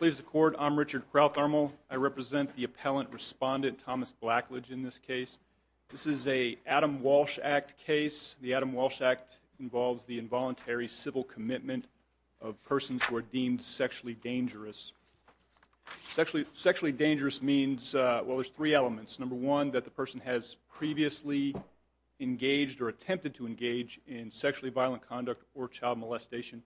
I represent the appellant respondent Thomas Blackledge in this case. This is a Adam Walsh Act case. The Adam Walsh Act involves the involuntary civil commitment of persons who are deemed sexually dangerous. Sexually dangerous means, well, there's three elements. Number one, that the person has previously engaged or attempted to engage in sexually violent conduct or child molestation.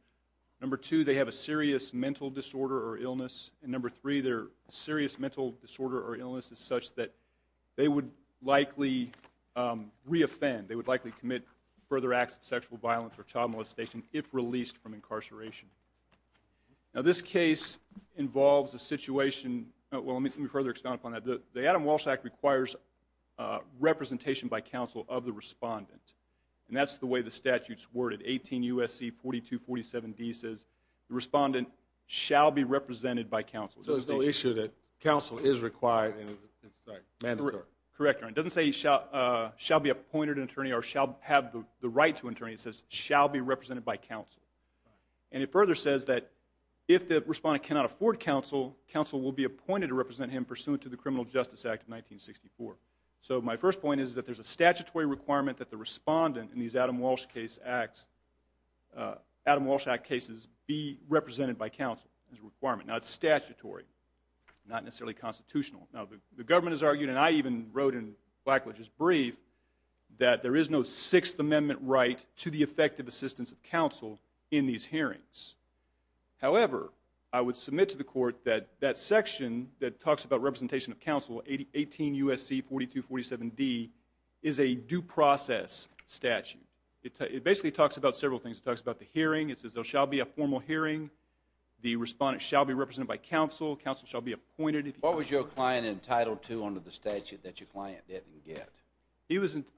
Number two, they have a serious mental disorder or illness. And number three, their serious mental disorder or illness is such that they would likely re-offend, they would likely commit further acts of sexual violence or child molestation if released from incarceration. Now this case involves a situation, well, let me further expand upon that. The Adam Walsh Act requires representation by counsel of the respondent. And that's the way the statute's worded. 18 U.S.C. 4247D says the respondent shall be represented by counsel. So it's an issue that counsel is required, sorry, mandatory. Correct, Your Honor. It doesn't say he shall be appointed an attorney or shall have the right to an attorney. It says shall be represented by counsel. And it further says that if the respondent cannot afford counsel, counsel will be appointed to represent him pursuant to the Criminal Justice Act of 1964. So my first point is that there's a statutory requirement that the respondent in these Adam Walsh Act cases be represented by counsel as a requirement. Now it's statutory, not necessarily constitutional. Now the government has argued, and I even wrote in Blackledge's brief, that there is no Sixth Amendment right to the effective assistance of counsel in these hearings. However, I would submit to the court that that section that talks about representation of counsel, 18 U.S.C. 4247D, is a due process statute. It basically talks about several things. It talks about the hearing, it says there shall be a formal hearing, the respondent shall be represented by counsel, counsel shall be appointed. What was your client entitled to under the statute that your client didn't get?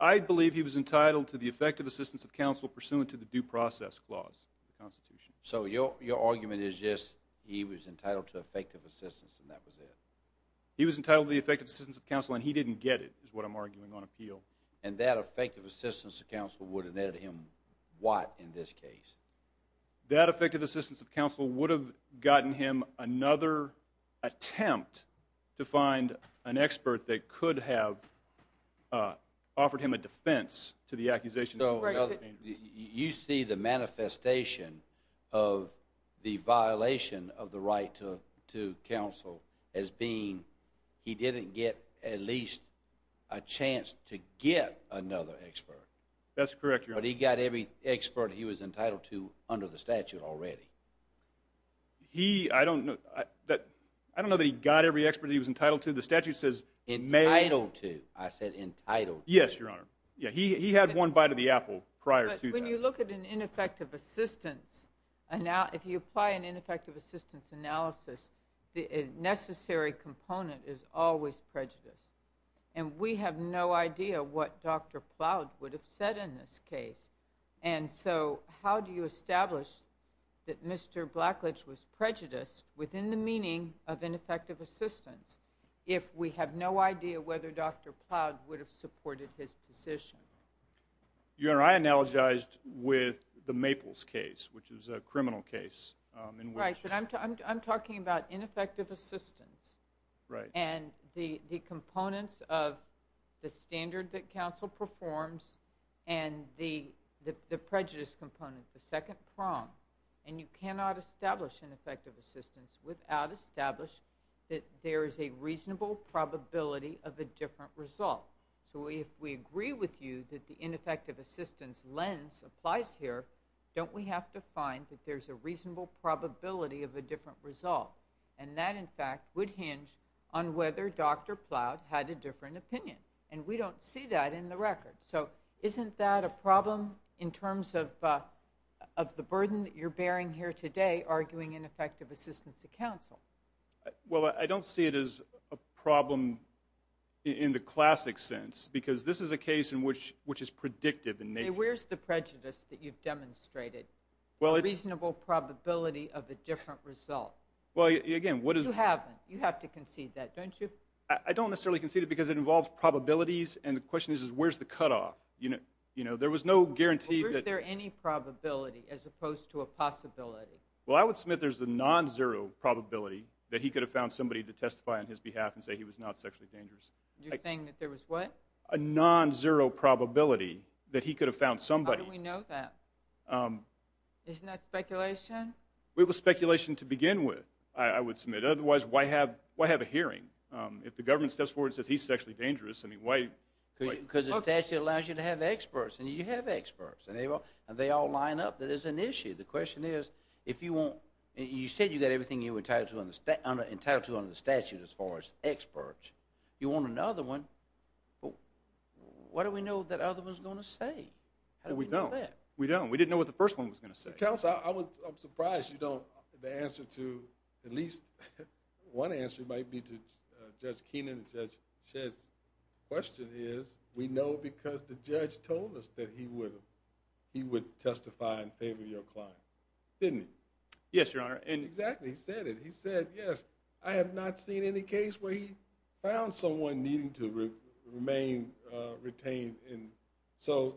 I believe he was entitled to the effective assistance of counsel pursuant to the due process clause of the Constitution. So your argument is just he was entitled to effective assistance and that was it? He was entitled to the effective assistance of counsel and he didn't get it, is what I'm arguing on appeal. And that effective assistance of counsel would have netted him what in this case? That effective assistance of counsel would have gotten him another attempt to find an expert that could have offered him a defense to the accusation. You see the manifestation of the violation of the right to counsel as being he didn't get at least a chance to get another expert. That's correct, Your Honor. But he got every expert he was entitled to under the statute already. He, I don't know, I don't know that he got every expert he was entitled to. The statute says, Entitled to, I said entitled to. Yes, Your Honor. He had one bite of the apple prior to that. But when you look at an ineffective assistance, if you apply an ineffective assistance analysis, the necessary component is always prejudice. And we have no idea what Dr. Plowd would have said in this case. And so how do you establish that Mr. Blackledge was prejudiced within the meaning of ineffective assistance if we have no idea whether Dr. Plowd would have supported his position? Your Honor, I analogized with the Maples case, which is a criminal case. Right, but I'm talking about ineffective assistance. Right. And the components of the standard that counsel performs and the prejudice component, the reasonable probability of a different result. So if we agree with you that the ineffective assistance lens applies here, don't we have to find that there's a reasonable probability of a different result? And that, in fact, would hinge on whether Dr. Plowd had a different opinion. And we don't see that in the record. So isn't that a problem in terms of the burden that you're bearing here today, arguing ineffective assistance to counsel? Well, I don't see it as a problem in the classic sense because this is a case in which it's predictive in nature. Where's the prejudice that you've demonstrated, the reasonable probability of a different result? Well, again, what is it? You haven't. You have to concede that, don't you? I don't necessarily concede it because it involves probabilities, and the question is where's the cutoff? There was no guarantee that- Well, is there any probability as opposed to a possibility? Well, I would submit there's a non-zero probability that he could have found somebody to testify on his behalf and say he was not sexually dangerous. You think that there was what? A non-zero probability that he could have found somebody. How do we know that? Isn't that speculation? It was speculation to begin with, I would submit. Otherwise, why have a hearing? If the government steps forward and says he's sexually dangerous, I mean, why- Because the statute allows you to have experts, and you have experts, and they all line up. There's an issue. The question is if you want- You said you got everything you were entitled to under the statute as far as experts. You want another one. What do we know that other one's going to say? How do we know that? We don't. We don't. We didn't know what the first one was going to say. Counsel, I'm surprised you don't- The answer to- At least one answer might be to Judge Keenan and Judge Shedd's question is we know because the judge told us that he would testify in favor of your client. Didn't he? Yes, Your Honor. And exactly. He said it. He said, yes, I have not seen any case where he found someone needing to remain retained. So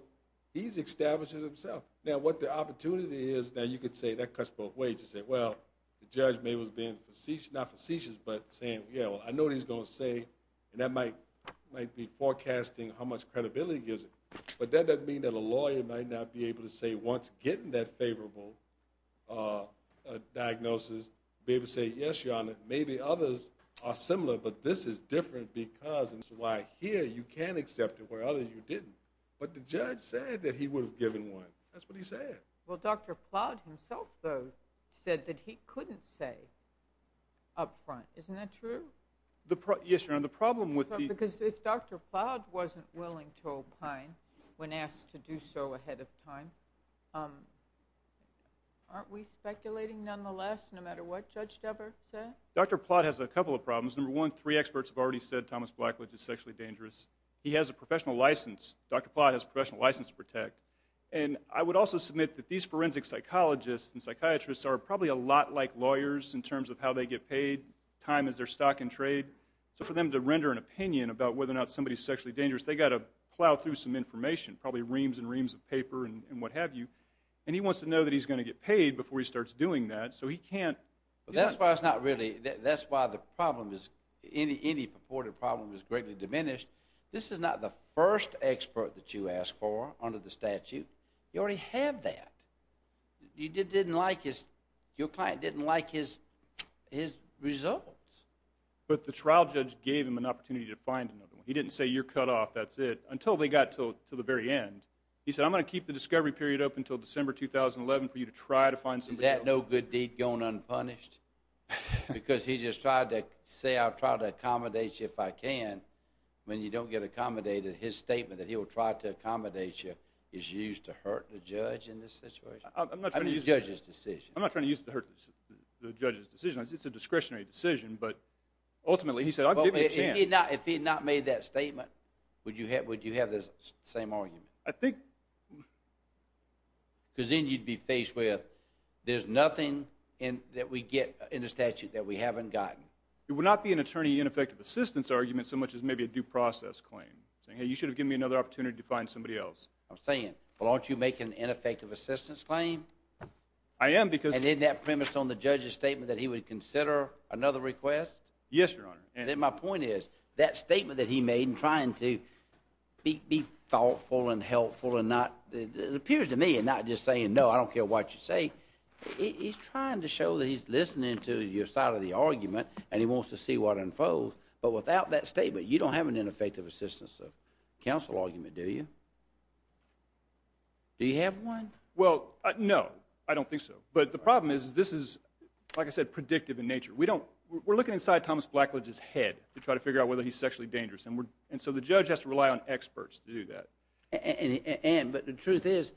he's established it himself. Now, what the opportunity is- Now, you could say that cuts both ways. You could say, well, the judge maybe was being facetious- Not facetious, but saying, yeah, well, I know what he's going to say, and that might be forecasting how much credibility he gives it. But that doesn't mean that a lawyer might not be able to say, once getting that favorable diagnosis, be able to say, yes, Your Honor, maybe others are similar, but this is different because- Here, you can accept it, where others you didn't. But the judge said that he would have given one. That's what he said. Well, Dr. Plowd himself, though, said that he couldn't say up front. Isn't that true? Yes, Your Honor. The problem with the- Because if Dr. Plowd wasn't willing to opine when asked to do so ahead of time, aren't we speculating, nonetheless, no matter what Judge Dubbert said? Dr. Plowd has a couple of problems. Number one, three experts have already said Thomas Blackledge is sexually dangerous. Dr. Plowd has a professional license to protect. And I would also submit that these forensic psychologists and psychiatrists are probably a lot like lawyers in terms of how they get paid, time is their stock in trade. So for them to render an opinion about whether or not somebody is sexually dangerous, they've got to plow through some information, probably reams and reams of paper and what have you. And he wants to know that he's going to get paid before he starts doing that, so he can't- That's why it's not really- That's why the problem is- any purported problem is greatly diminished. This is not the first expert that you ask for under the statute. You already have that. You didn't like his- your client didn't like his results. But the trial judge gave him an opportunity to find another one. He didn't say, you're cut off, that's it, until they got to the very end. He said, I'm going to keep the discovery period open until December 2011 for you to try to find somebody else. Is that no good deed going unpunished? Because he just tried to say, I'll try to accommodate you if I can. When you don't get accommodated, his statement that he will try to accommodate you is used to hurt the judge in this situation. I'm not trying to use- I mean the judge's decision. I'm not trying to use it to hurt the judge's decision. It's a discretionary decision, but ultimately he said, I'll give you a chance. If he had not made that statement, would you have this same argument? I think- Because then you'd be faced with, there's nothing that we get in the statute that we haven't gotten. It would not be an attorney ineffective assistance argument so much as maybe a due process claim. Saying, hey, you should have given me another opportunity to find somebody else. I'm saying, but aren't you making an ineffective assistance claim? I am because- And isn't that premised on the judge's statement that he would consider another request? Yes, Your Honor. Then my point is, that statement that he made in trying to be thoughtful and helpful and not, it appears to me, and not just saying, no, I don't care what you say, he's trying to show that he's listening to your side of the argument and he wants to see what unfolds. But without that statement, you don't have an ineffective assistance counsel argument, do you? Do you have one? Well, no, I don't think so. But the problem is, this is, like I said, predictive in nature. We're looking inside Thomas Blackledge's head to try to figure out whether he's sexually dangerous. And so the judge has to rely on experts to do that. But the truth is,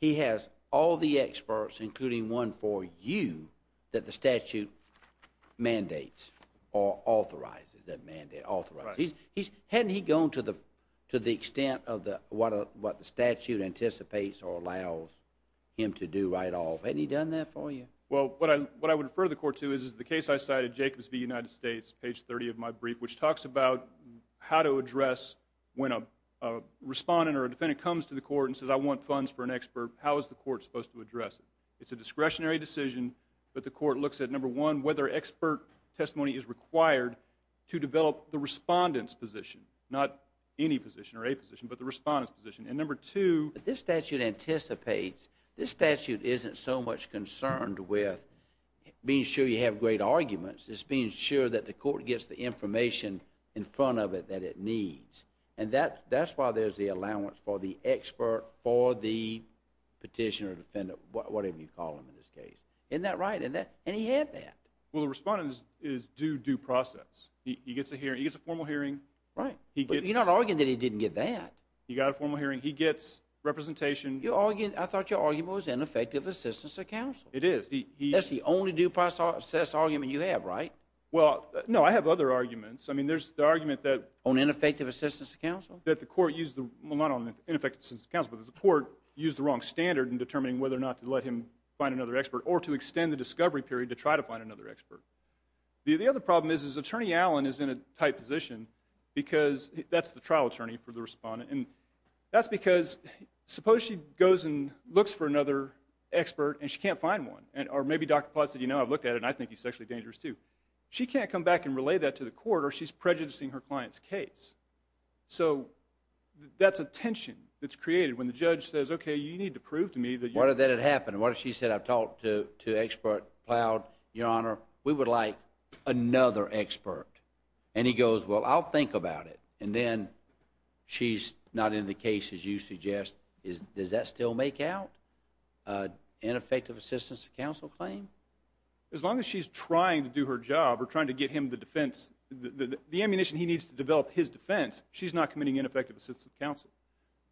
he has all the experts, including one for you, that the statute mandates or authorizes, that authorizes. Right. Hadn't he gone to the extent of what the statute anticipates or allows him to do right off? Hadn't he done that for you? Well, what I would refer the court to is the case I cited, Jacobs v. United States, page 30 of my brief, which talks about how to address when a respondent or a defendant comes to the court and says, I want funds for an expert, how is the court supposed to address it? It's a discretionary decision, but the court looks at, number one, whether expert testimony is required to develop the respondent's position, not any position or a position, but the respondent's position. And number two. But this statute anticipates. This statute isn't so much concerned with being sure you have great arguments. It's being sure that the court gets the information in front of it that it needs. And that's why there's the allowance for the expert or for the petitioner or defendant, whatever you call them in this case. Isn't that right? And he had that. Well, the respondent is due due process. He gets a formal hearing. Right. But you're not arguing that he didn't get that. He got a formal hearing. He gets representation. I thought your argument was ineffective assistance of counsel. It is. That's the only due process argument you have, right? Well, no, I have other arguments. I mean, there's the argument that. On ineffective assistance of counsel? Well, not on ineffective assistance of counsel, but that the court used the wrong standard in determining whether or not to let him find another expert or to extend the discovery period to try to find another expert. The other problem is Attorney Allen is in a tight position because that's the trial attorney for the respondent. And that's because suppose she goes and looks for another expert and she can't find one, or maybe Dr. Potts said, you know, I've looked at it and I think he's sexually dangerous too. She can't come back and relay that to the court or she's prejudicing her client's case. So that's a tension that's created when the judge says, okay, you need to prove to me that you're. What if that had happened? What if she said, I've talked to expert Plowd, Your Honor, we would like another expert. And he goes, well, I'll think about it. And then she's not in the case as you suggest. Does that still make out ineffective assistance of counsel claim? As long as she's trying to do her job or trying to get him the defense, the ammunition he needs to develop his defense, she's not committing ineffective assistance of counsel.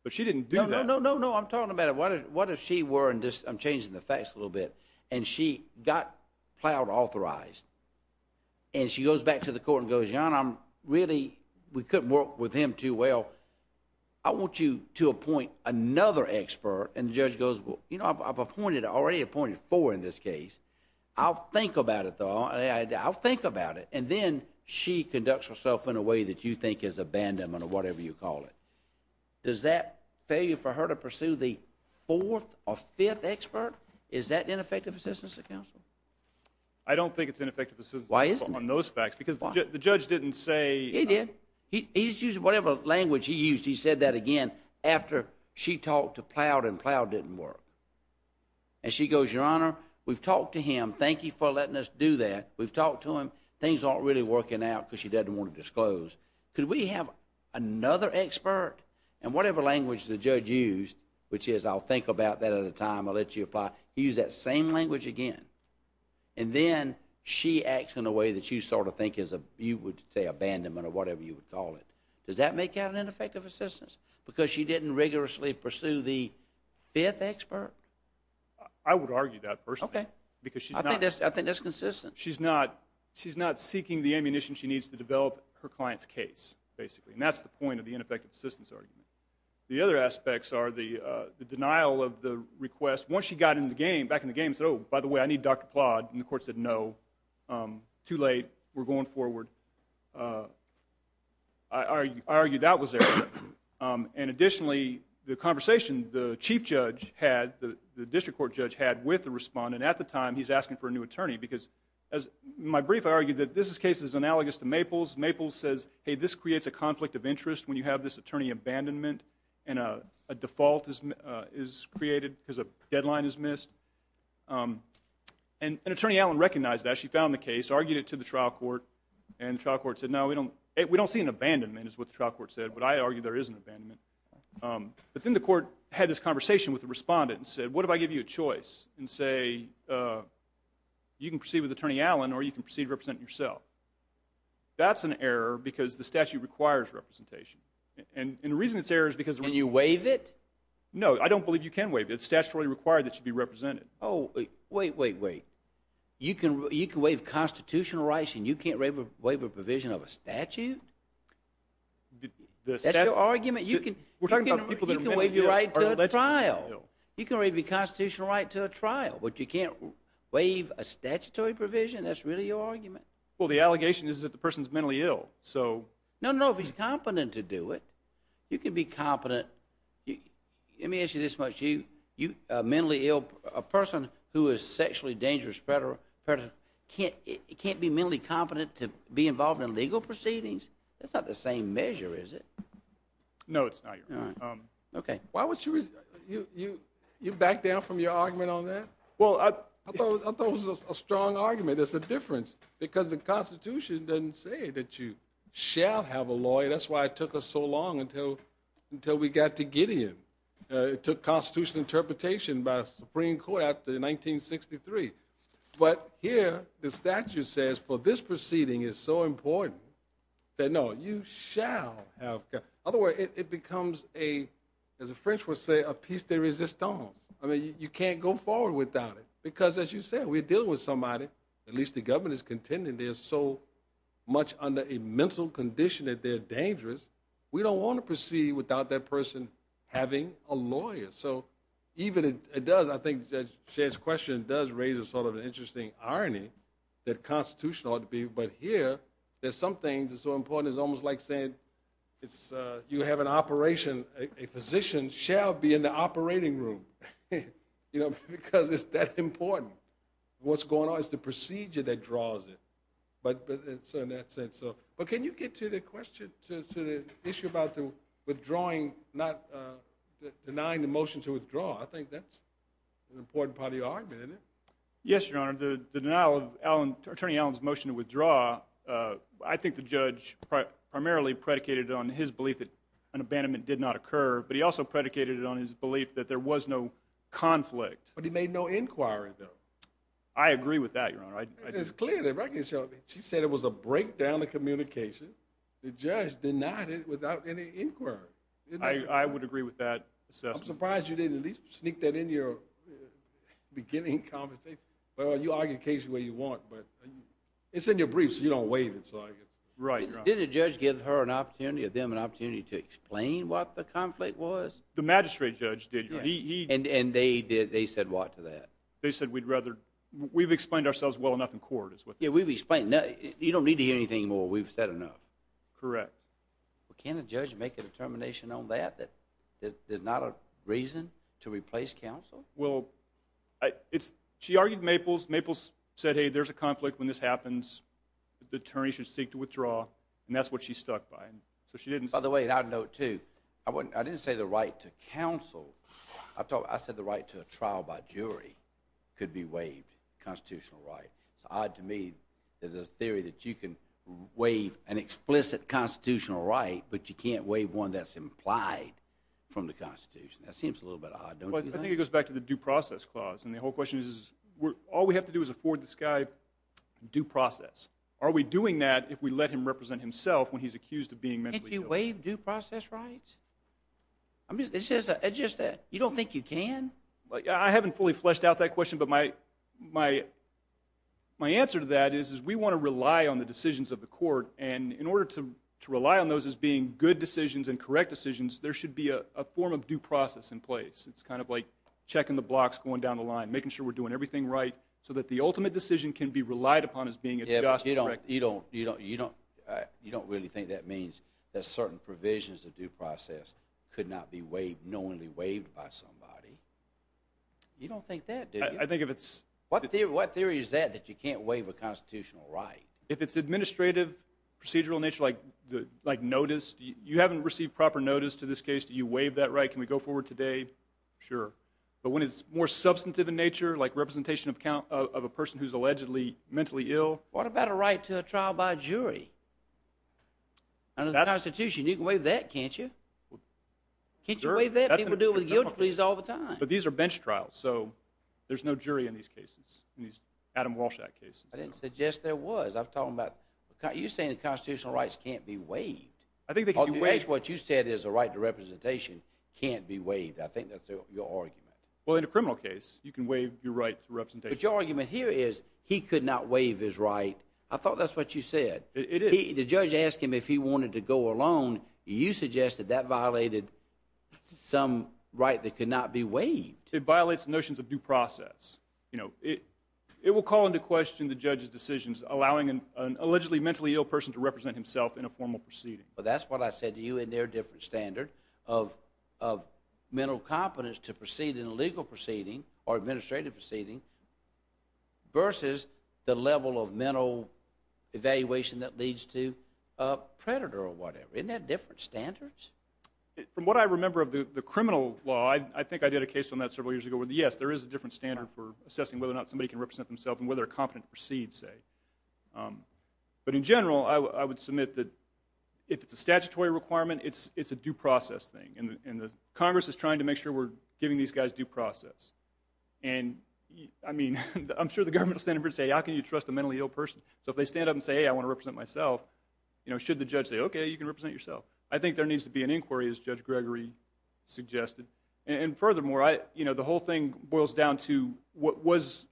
But she didn't do that. No, no, no. I'm talking about it. What if she were, and I'm changing the facts a little bit, and she got Plowd authorized and she goes back to the court and goes, Your Honor, I'm really, we couldn't work with him too well. I want you to appoint another expert. And the judge goes, well, you know, I've appointed, already appointed four in this case. I'll think about it, though. I'll think about it. And then she conducts herself in a way that you think is abandonment or whatever you call it. Does that fail you for her to pursue the fourth or fifth expert? Is that ineffective assistance of counsel? I don't think it's ineffective assistance of counsel on those facts. Why isn't it? Because the judge didn't say. He did. He just used whatever language he used. He said that again after she talked to Plowd and Plowd didn't work. And she goes, Your Honor, we've talked to him. Thank you for letting us do that. We've talked to him. Things aren't really working out because she doesn't want to disclose. Could we have another expert? And whatever language the judge used, which is I'll think about that at a time, I'll let you apply, he used that same language again. And then she acts in a way that you sort of think is, you would say abandonment or whatever you would call it. Does that make that an ineffective assistance? Because she didn't rigorously pursue the fifth expert? I would argue that personally. Okay. I think that's consistent. She's not seeking the ammunition she needs to develop her client's case, basically. And that's the point of the ineffective assistance argument. The other aspects are the denial of the request. Once she got back in the game and said, Oh, by the way, I need Dr. Plowd. And the court said, No, too late. We're going forward. I argue that was there. And additionally, the conversation the chief judge had, the district court judge had with the respondent at the time, he's asking for a new attorney. Because in my brief, I argue that this case is analogous to Maples. Maples says, Hey, this creates a conflict of interest when you have this attorney abandonment and a default is created because a deadline is missed. And Attorney Allen recognized that. She found the case, argued it to the trial court, and the trial court said, No, we don't see an abandonment, is what the trial court said. But I argue there is an abandonment. But then the court had this conversation with the respondent and said, What if I give you a choice and say you can proceed with Attorney Allen or you can proceed to represent yourself? That's an error because the statute requires representation. And the reason it's an error is because the reason it's not. Can you waive it? No, I don't believe you can waive it. It's statutorily required that you be represented. Oh, wait, wait, wait. You can waive constitutional rights and you can't waive a provision of a statute? That's your argument? You can waive your right to a trial. You can waive your constitutional right to a trial, but you can't waive a statutory provision? That's really your argument? Well, the allegation is that the person is mentally ill. No, no, if he's competent to do it. You can be competent. Let me ask you this much. A mentally ill person who is sexually dangerous can't be mentally competent to be involved in legal proceedings? That's not the same measure, is it? No, it's not your argument. Okay. You back down from your argument on that? Well, I thought it was a strong argument. There's a difference because the Constitution doesn't say that you shall have a lawyer. That's why it took us so long until we got to Gideon. It took constitutional interpretation by the Supreme Court after 1963. But here the statute says, for this proceeding is so important, that no, you shall have a lawyer. It becomes, as the French would say, a piece de resistance. I mean, you can't go forward without it because, as you said, we're dealing with somebody. At least the government is contending there's so much under a mental condition that they're dangerous. We don't want to proceed without that person having a lawyer. So even if it does, I think Judge Shea's question does raise sort of an interesting irony that the Constitution ought to be, but here there's some things that are so important it's almost like saying you have an operation, a physician shall be in the operating room because it's that important. What's going on is the procedure that draws it. But can you get to the issue about denying the motion to withdraw? I think that's an important part of your argument, isn't it? Yes, Your Honor. The denial of Attorney Allen's motion to withdraw, I think the judge primarily predicated on his belief that an abandonment did not occur, but he also predicated on his belief that there was no conflict. I agree with that, Your Honor. It's clear. She said it was a breakdown of communication. The judge denied it without any inquiry. I would agree with that assessment. I'm surprised you didn't at least sneak that into your beginning conversation. Well, you argue the case the way you want, but it's in your brief so you don't waive it. Right, Your Honor. Did the judge give her an opportunity or them an opportunity to explain what the conflict was? The magistrate judge did. And they said what to that? They said we'd rather... We've explained ourselves well enough in court. Yeah, we've explained. You don't need to hear anything more. We've said enough. Correct. Can a judge make a determination on that, that there's not a reason to replace counsel? Well, she argued Maples. Maples said, hey, there's a conflict when this happens. The attorney should seek to withdraw, and that's what she stuck by. By the way, and I'd note, too, I didn't say the right to counsel. I said the right to a trial by jury could be waived, constitutional right. It's odd to me that there's a theory that you can waive an explicit constitutional right, but you can't waive one that's implied from the Constitution. That seems a little bit odd, don't you think? Well, I think it goes back to the due process clause, and the whole question is, all we have to do is afford this guy due process. Are we doing that if we let him represent himself when he's accused of being mentally ill? Can't you waive due process rights? It's just that you don't think you can? I haven't fully fleshed out that question, but my answer to that is we want to rely on the decisions of the court, and in order to rely on those as being good decisions and correct decisions, there should be a form of due process in place. It's kind of like checking the blocks going down the line, making sure we're doing everything right, so that the ultimate decision can be relied upon as being a just, correct decision. You don't really think that means that certain provisions of due process could not be knowingly waived by somebody. You don't think that, do you? I think if it's... What theory is that, that you can't waive a constitutional right? If it's administrative, procedural in nature, like notice, you haven't received proper notice to this case, do you waive that right? Can we go forward today? Sure. But when it's more substantive in nature, like representation of a person who's allegedly mentally ill... What about a right to a trial by jury? Under the Constitution, you can waive that, can't you? Can't you waive that? People do it with guilty pleas all the time. But these are bench trials, so there's no jury in these cases, in these Adam Walsh Act cases. I didn't suggest there was. I'm talking about... You're saying the constitutional rights can't be waived. I think they can be waived. What you said is a right to representation can't be waived. I think that's your argument. Well, in a criminal case, you can waive your right to representation. But your argument here is he could not waive his right. I thought that's what you said. It is. The judge asked him if he wanted to go alone. You suggested that violated some right that could not be waived. It violates notions of due process. You know, it will call into question the judge's decisions allowing an allegedly mentally ill person to represent himself in a formal proceeding. But that's what I said to you in their different standard of mental competence to proceed in a legal proceeding or administrative proceeding versus the level of mental evaluation that leads to a predator or whatever. Isn't that different standards? From what I remember of the criminal law, I think I did a case on that several years ago where, yes, there is a different standard for assessing whether or not somebody can represent themselves and whether they're competent to proceed, say. But in general, I would submit that if it's a statutory requirement, it's a due process thing. And Congress is trying to make sure we're giving these guys due process. And, I mean, I'm sure the government will stand up and say, how can you trust a mentally ill person? So if they stand up and say, hey, I want to represent myself, should the judge say, okay, you can represent yourself? I think there needs to be an inquiry, as Judge Gregory suggested. And furthermore, the whole thing boils down to was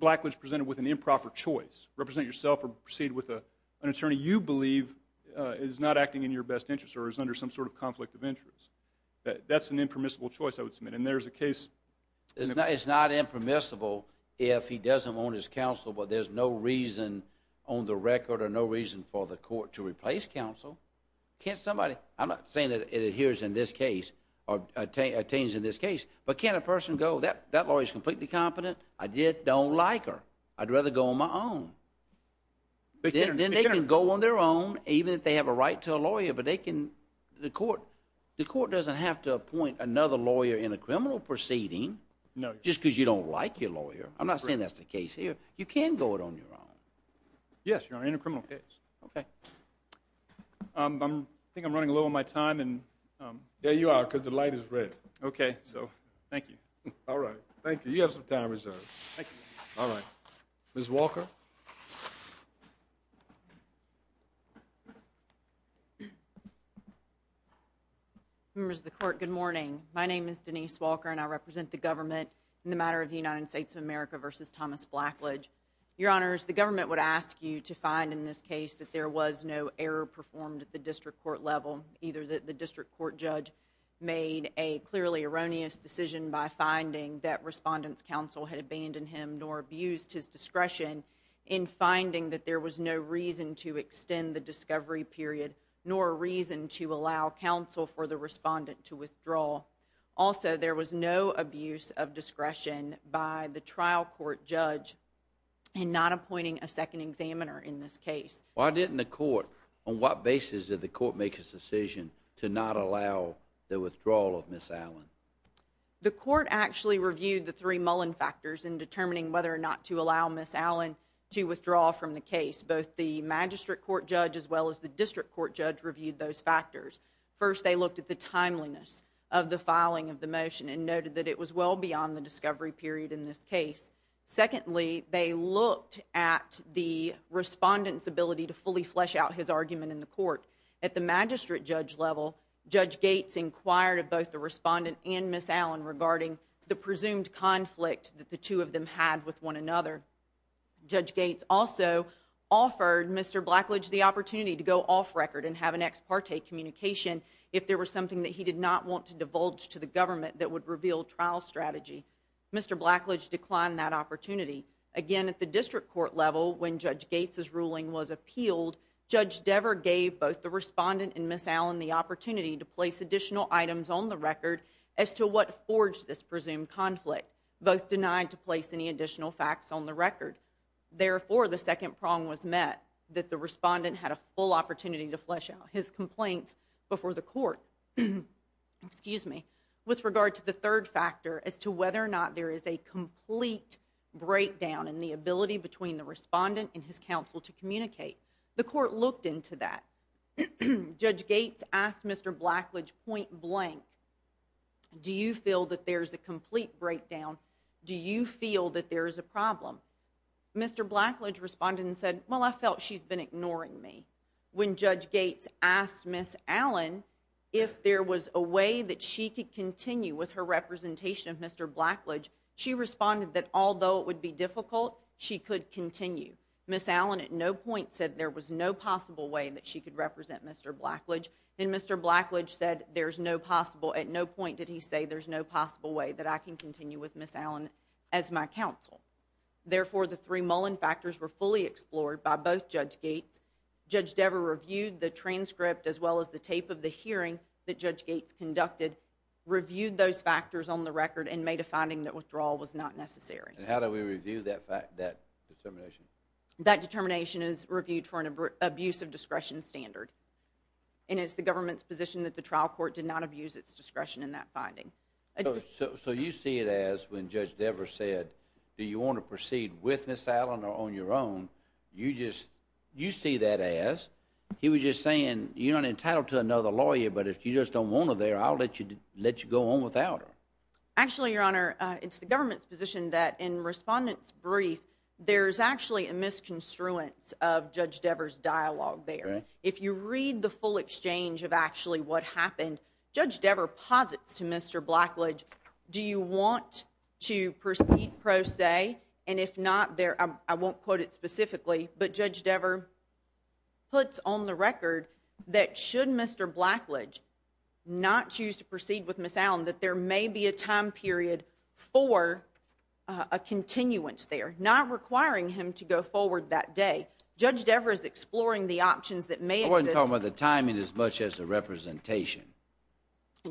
Blackledge presented with an improper choice? Represent yourself or proceed with an attorney you believe is not acting in your best interest or is under some sort of conflict of interest? That's an impermissible choice I would submit. And there's a case... It's not impermissible if he doesn't want his counsel but there's no reason on the record or no reason for the court to replace counsel. Can't somebody... I'm not saying it adheres in this case or attains in this case, but can't a person go, that lawyer's completely competent, I don't like her, I'd rather go on my own. Then they can go on their own, even if they have a right to a lawyer, but they can... The court doesn't have to appoint another lawyer in a criminal proceeding just because you don't like your lawyer. I'm not saying that's the case here. You can go it on your own. Yes, Your Honor, in a criminal case. Okay. I think I'm running low on my time. Yeah, you are, because the light is red. Okay, so thank you. All right, thank you. You have some time reserved. Thank you. Ms. Walker? Members of the court, good morning. My name is Denise Walker, and I represent the government in the matter of the United States of America v. Thomas Blackledge. Your Honors, the government would ask you to find in this case that there was no error performed at the district court level, either that the district court judge made a clearly erroneous decision by finding that respondents' counsel had abandoned him nor abused his discretion in finding that there was no reason to extend the discovery period nor a reason to allow counsel for the respondent to withdraw. Also, there was no abuse of discretion by the trial court judge in not appointing a second examiner in this case. Why didn't the court, on what basis did the court make its decision to not allow the withdrawal of Ms. Allen? The court actually reviewed the three Mullen factors in determining whether or not to allow Ms. Allen to withdraw from the case. Both the magistrate court judge as well as the district court judge reviewed those factors. First, they looked at the timeliness of the filing of the motion and noted that it was well beyond the discovery period in this case. Secondly, they looked at the respondent's ability to fully flesh out his argument in the court. At the magistrate judge level, Judge Gates inquired of both the respondent and Ms. Allen regarding the presumed conflict that the two of them had with one another. Judge Gates also offered Mr. Blackledge the opportunity to go off record and have an ex parte communication if there was something that he did not want to divulge to the government that would reveal trial strategy. Mr. Blackledge declined that opportunity. Again, at the district court level, when Judge Gates' ruling was appealed, Judge Dever gave both the respondent and Ms. Allen the opportunity to place additional items on the record as to what forged this presumed conflict. Both denied to place any additional facts on the record. Therefore, the second prong was met, that the respondent had a full opportunity to flesh out his complaints before the court with regard to the third factor as to whether or not there is a complete breakdown in the ability between the respondent and his counsel to communicate. The court looked into that. Judge Gates asked Mr. Blackledge point blank, do you feel that there is a complete breakdown? Do you feel that there is a problem? Mr. Blackledge responded and said, well, I felt she's been ignoring me. When Judge Gates asked Ms. Allen if there was a way that she could continue with her representation of Mr. Blackledge, she responded that although it would be difficult, she could continue. Ms. Allen at no point said there was no possible way that she could represent Mr. Blackledge. And Mr. Blackledge said there's no possible, at no point did he say there's no possible way that I can continue with Ms. Allen as my counsel. Therefore, the three Mullen factors were fully explored by both Judge Gates. Judge Dever reviewed the transcript as well as the tape of the hearing that Judge Gates conducted, reviewed those factors on the record and made a finding that withdrawal was not necessary. And how do we review that fact, that determination? That determination is reviewed for an abuse of discretion standard. And it's the government's position that the trial court did not abuse its discretion in that finding. So you see it as when Judge Dever said, do you want to proceed with Ms. Allen or on your own? You just, you see that as, he was just saying, you're not entitled to another lawyer, but if you just don't want her there, I'll let you, let you go on without her. Actually, Your Honor, it's the government's position that in respondents' brief, there's actually a misconstruence of Judge Dever's dialogue there. If you read the full exchange of actually what happened, Judge Dever posits to Mr. Blackledge, do you want to proceed pro se? And if not, there, I won't quote it specifically, but Judge Dever puts on the record that should Mr. Blackledge not choose to proceed with Ms. Allen, that there may be a time period for a continuance there, not requiring him to go forward that day. Judge Dever is exploring the options that may exist. I wasn't talking about the timing as much as the representation.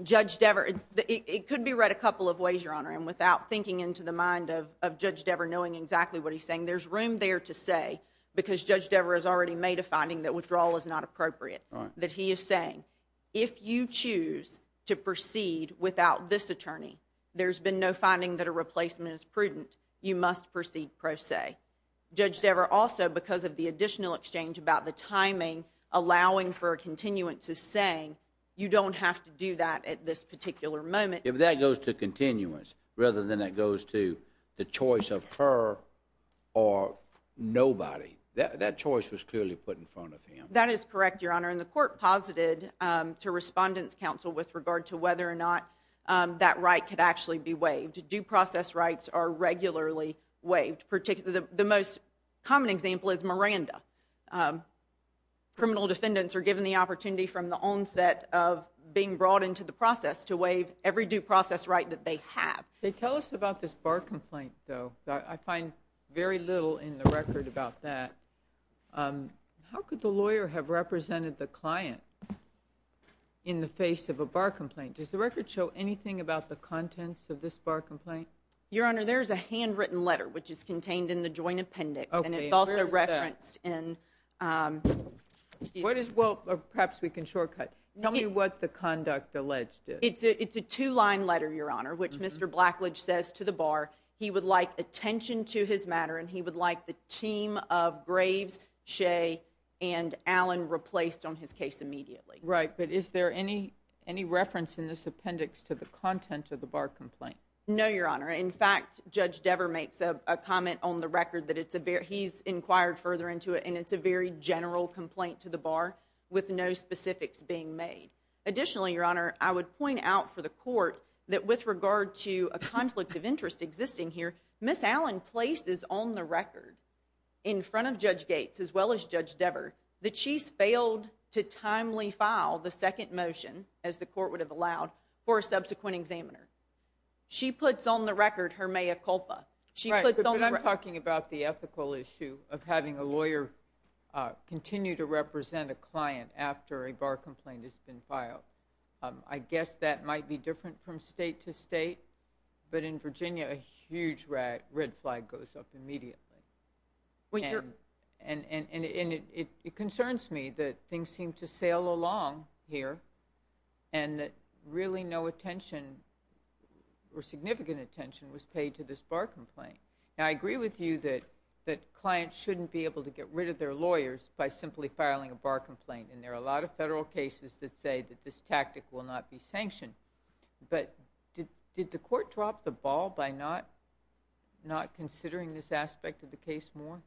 Judge Dever, it could be read a couple of ways, Your Honor, and without thinking into the mind of Judge Dever knowing exactly what he's saying, there's room there to say, because Judge Dever has already made a finding that withdrawal is not appropriate, that he is saying, if you choose to proceed without this attorney, there's been no finding that a replacement is prudent, you must proceed pro se. Judge Dever also, because of the additional exchange about the timing, allowing for a continuance is saying, you don't have to do that at this particular moment. If that goes to continuance rather than it goes to the choice of her or nobody, that choice was clearly put in front of him. That is correct, Your Honor, and the court posited to Respondent's Counsel with regard to whether or not that right could actually be waived. Due process rights are regularly waived, particularly the most common example is Miranda. Criminal defendants are given the opportunity from the onset of being brought into the process to waive every due process right that they have. Tell us about this bar complaint, though. I find very little in the record about that. How could the lawyer have represented the client in the face of a bar complaint? Does the record show anything about the contents of this bar complaint? Your Honor, there is a handwritten letter, which is contained in the joint appendix, and it's also referenced in. Perhaps we can shortcut. Tell me what the conduct alleged is. It's a two-line letter, Your Honor, which Mr. Blackledge says to the bar he would like attention to his matter and he would like the team of Graves, Shea, and Allen replaced on his case immediately. Right, but is there any reference in this appendix to the content of the bar complaint? No, Your Honor. In fact, Judge Dever makes a comment on the record that he's inquired further into it, and it's a very general complaint to the bar with no specifics being made. Additionally, Your Honor, I would point out for the court that with regard to a conflict of interest existing here, Ms. Allen places on the record in front of Judge Gates as well as Judge Dever that she's failed to timely file the second motion, as the court would have allowed, for a subsequent examiner. She puts on the record her mea culpa. Right, but I'm talking about the ethical issue of having a lawyer continue to represent a client after a bar complaint has been filed. I guess that might be different from state to state, but in Virginia a huge red flag goes up immediately. And it concerns me that things seem to sail along here and that really no attention or significant attention was paid to this bar complaint. Now, I agree with you that clients shouldn't be able to get rid of their lawyers by simply filing a bar complaint, and there are a lot of federal cases that say that this tactic will not be sanctioned. But did the court drop the ball by not considering this aspect of the case more?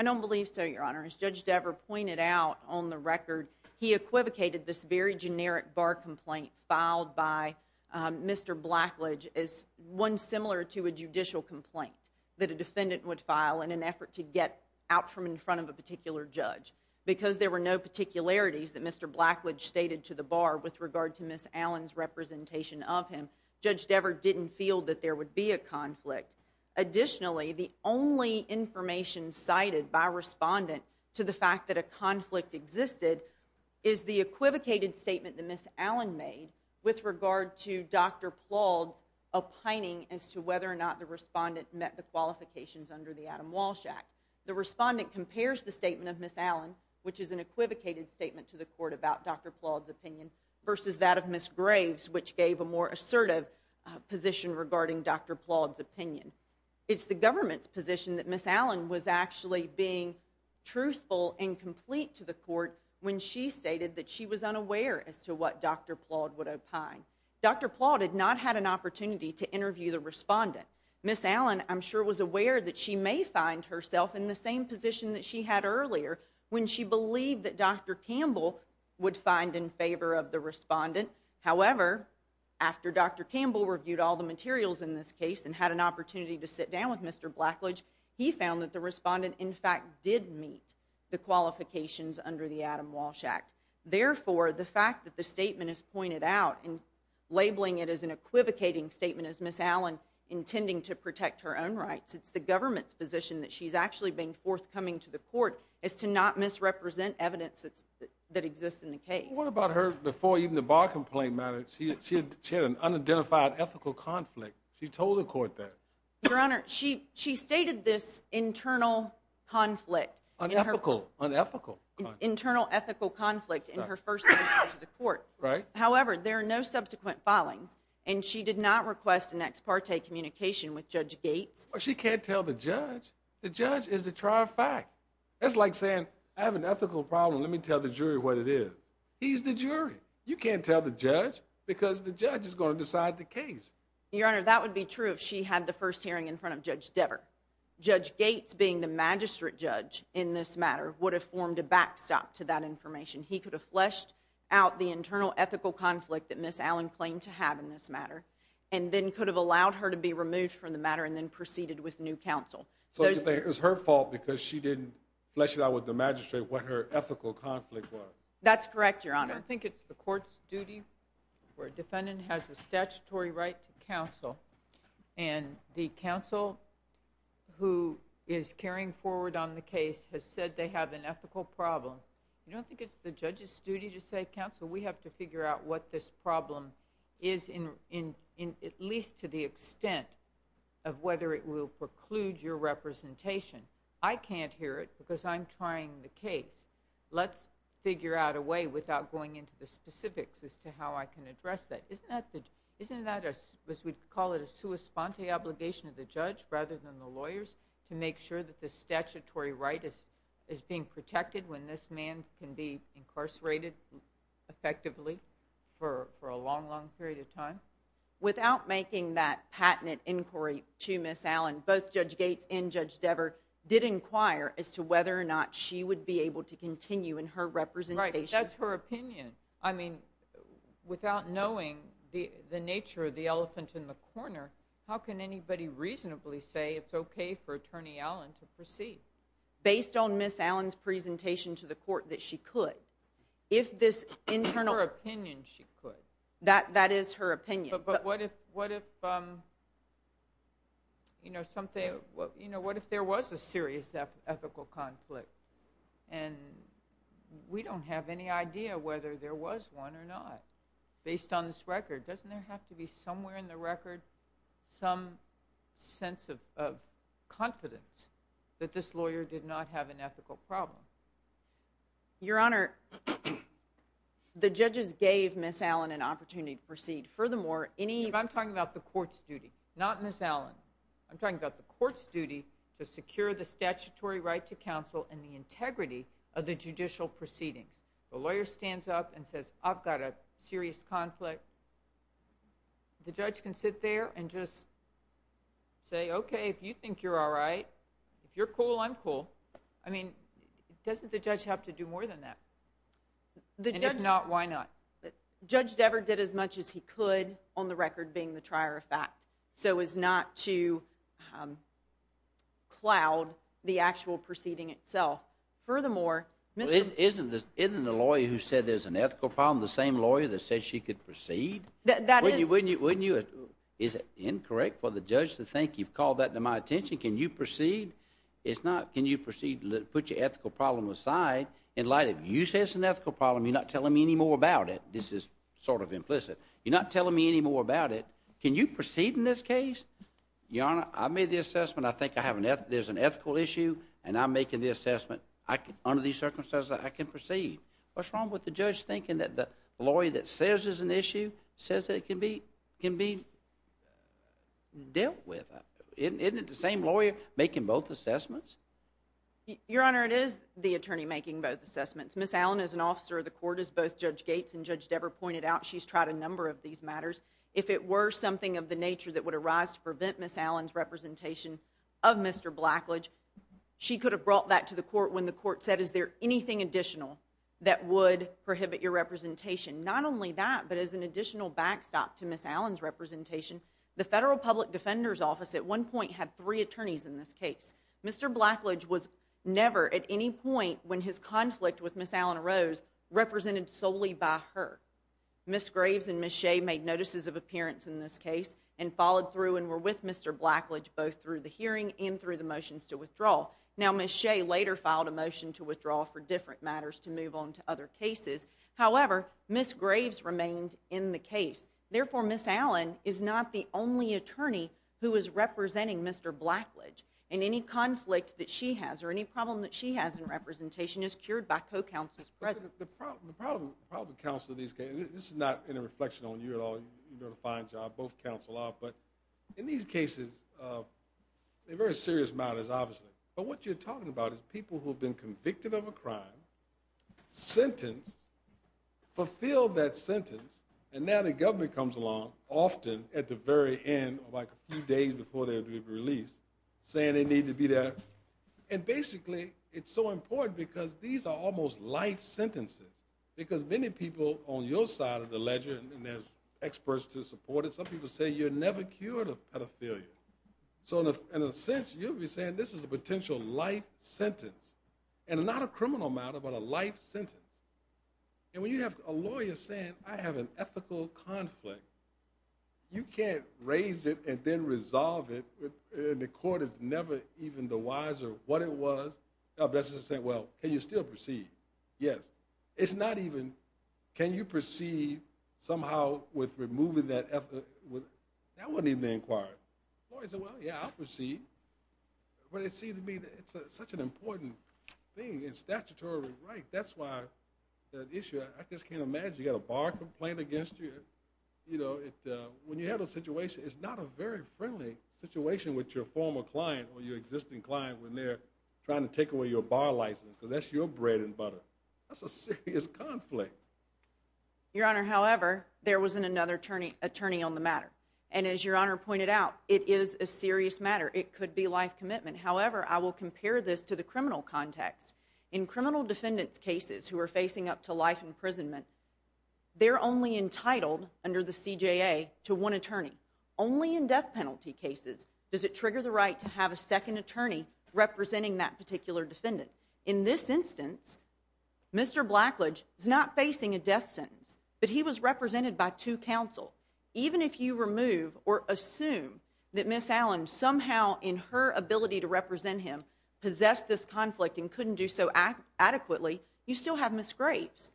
I don't believe so, Your Honor. As Judge Dever pointed out on the record, he equivocated this very generic bar complaint filed by Mr. Blackledge as one similar to a judicial complaint that a defendant would file in an effort to get out from in front of a particular judge. Because there were no particularities that Mr. Blackledge stated to the bar with regard to Ms. Allen's representation of him, Judge Dever didn't feel that there would be a conflict. Additionally, the only information cited by a respondent to the fact that a conflict existed is the equivocated statement that Ms. Allen made with regard to Dr. Plaude's opining as to whether or not the respondent met the qualifications under the Adam Walsh Act. The respondent compares the statement of Ms. Allen, which is an equivocated statement to the court about Dr. Plaude's opinion, versus that of Ms. Graves, which gave a more assertive position regarding Dr. Plaude's opinion. It's the government's position that Ms. Allen was actually being truthful and complete to the court when she stated that she was unaware as to what Dr. Plaude would opine. Dr. Plaude had not had an opportunity to interview the respondent. Ms. Allen, I'm sure, was aware that she may find herself in the same position that she had earlier when she believed that Dr. Campbell would find in favor of the respondent. However, after Dr. Campbell reviewed all the materials in this case and had an opportunity to sit down with Mr. Blackledge, he found that the respondent, in fact, did meet the qualifications under the Adam Walsh Act. Therefore, the fact that the statement is pointed out and labeling it as an equivocating statement as Ms. Allen intending to protect her own rights, it's the government's position that she's actually been forthcoming to the court as to not misrepresent evidence that exists in the case. What about her before even the bar complaint matter? She had an unidentified ethical conflict. She told the court that. Your Honor, she stated this internal conflict. Unethical. Unethical. Internal ethical conflict in her first visit to the court. However, there are no subsequent filings, and she did not request an ex parte communication with Judge Gates. She can't tell the judge. The judge is the trier of fact. That's like saying, I have an ethical problem. Let me tell the jury what it is. He's the jury. You can't tell the judge because the judge is going to decide the case. Your Honor, that would be true if she had the first hearing in front of Judge Devere. Judge Gates, being the magistrate judge in this matter, would have formed a backstop to that information. He could have fleshed out the internal ethical conflict that Ms. Allen claimed to have in this matter and then could have allowed her to be removed from the matter and then proceeded with new counsel. So you think it was her fault because she didn't flesh it out with the magistrate what her ethical conflict was? That's correct, Your Honor. I don't think it's the court's duty where a defendant has a statutory right to counsel and the counsel who is carrying forward on the case has said they have an ethical problem. I don't think it's the judge's duty to say, Counsel, we have to figure out what this problem is at least to the extent of whether it will preclude your representation. I can't hear it because I'm trying the case. Let's figure out a way without going into the specifics as to how I can address that. Isn't that a, as we call it, a sua sponte obligation of the judge rather than the lawyers to make sure that the statutory right is being protected when this man can be incarcerated effectively for a long, long period of time? Without making that patented inquiry to Ms. Allen, both Judge Gates and Judge Dever did inquire as to whether or not she would be able to continue in her representation. Right, but that's her opinion. I mean, without knowing the nature of the elephant in the corner, how can anybody reasonably say it's okay for Attorney Allen to proceed? Based on Ms. Allen's presentation to the court that she could. In her opinion, she could. That is her opinion. But what if, you know, what if there was a serious ethical conflict and we don't have any idea whether there was one or not based on this record? Doesn't there have to be somewhere in the record some sense of confidence that this lawyer did not have an ethical problem? Your Honor, the judges gave Ms. Allen an opportunity to proceed. Furthermore, any... I'm talking about the court's duty, not Ms. Allen. I'm talking about the court's duty to secure the statutory right to counsel and the integrity of the judicial proceedings. The lawyer stands up and says, I've got a serious conflict. The judge can sit there and just say, okay, if you think you're all right, if you're cool, I'm cool. I mean, doesn't the judge have to do more than that? And if not, why not? Judge Devereux did as much as he could on the record being the trier of fact so as not to cloud the actual proceeding itself. Furthermore... Isn't the lawyer who said there's an ethical problem the same lawyer that said she could proceed? That is... Wouldn't you... Is it incorrect for the judge to think you've called that to my attention? Can you proceed? It's not, can you proceed, put your ethical problem aside in light of you say it's an ethical problem, you're not telling me any more about it. This is sort of implicit. You're not telling me any more about it. Can you proceed in this case? Your Honor, I made the assessment. I think there's an ethical issue and I'm making the assessment. Under these circumstances, I can proceed. What's wrong with the judge thinking that the lawyer that says there's an issue says it can be dealt with? Isn't it the same lawyer making both assessments? Your Honor, it is the attorney making both assessments. Ms. Allen is an officer of the court, as both Judge Gates and Judge Devere pointed out. She's tried a number of these matters. If it were something of the nature that would arise to prevent Ms. Allen's representation of Mr. Blackledge, she could have brought that to the court when the court said, is there anything additional that would prohibit your representation? Not only that, but as an additional backstop to Ms. Allen's representation, the Federal Public Defender's Office at one point had three attorneys in this case. Mr. Blackledge was never at any point when his conflict with Ms. Allen arose represented solely by her. Ms. Graves and Ms. Shea made notices of appearance in this case and followed through and were with Mr. Blackledge both through the hearing and through the motions to withdraw. Now, Ms. Shea later filed a motion to withdraw for different matters to move on to other cases. However, Ms. Graves remained in the case. Therefore, Ms. Allen is not the only attorney who is representing Mr. Blackledge in any conflict that she has or any problem that she has in representation is cured by co-counsel's presence. The problem with counsel in these cases, and this is not any reflection on you at all, you're doing a fine job, both counsel are, but in these cases, they're very serious matters, obviously. But what you're talking about is people who have been convicted of a crime, sentenced, fulfilled that sentence, and now the government comes along, often at the very end, like a few days before they're to be released, saying they need to be there. And basically, it's so important because these are almost life sentences, because many people on your side of the ledger, and there's experts to support it, some people say you're never cured of pedophilia. So in a sense, you'll be saying this is a potential life sentence, and not a criminal matter, but a life sentence. And when you have a lawyer saying, I have an ethical conflict, you can't raise it and then resolve it, and the court is never even the wiser of what it was, the best is to say, well, can you still proceed? Yes. It's not even, can you proceed somehow with removing that ethical, that wasn't even inquired. Lawyers say, well, yeah, I'll proceed. But it seems to me that it's such an important thing in statutory right, that's why the issue, I just can't imagine you got a bar complaint against you, you know, when you have a situation, it's not a very friendly situation with your former client or your existing client when they're trying to take away your bar license, because that's your bread and butter. That's a serious conflict. Your Honor, however, there was another attorney on the matter. And as Your Honor pointed out, it is a serious matter. It could be life commitment. However, I will compare this to the criminal context. In criminal defendants' cases who are facing up to life imprisonment, they're only entitled, under the CJA, to one attorney. Only in death penalty cases does it trigger the right to have a second attorney representing that particular defendant. In this instance, Mr. Blackledge is not facing a death sentence, but he was represented by two counsel. Even if you remove or assume that Ms. Allen somehow, in her ability to represent him, possessed this conflict and couldn't do so adequately, you still have Ms. Graves.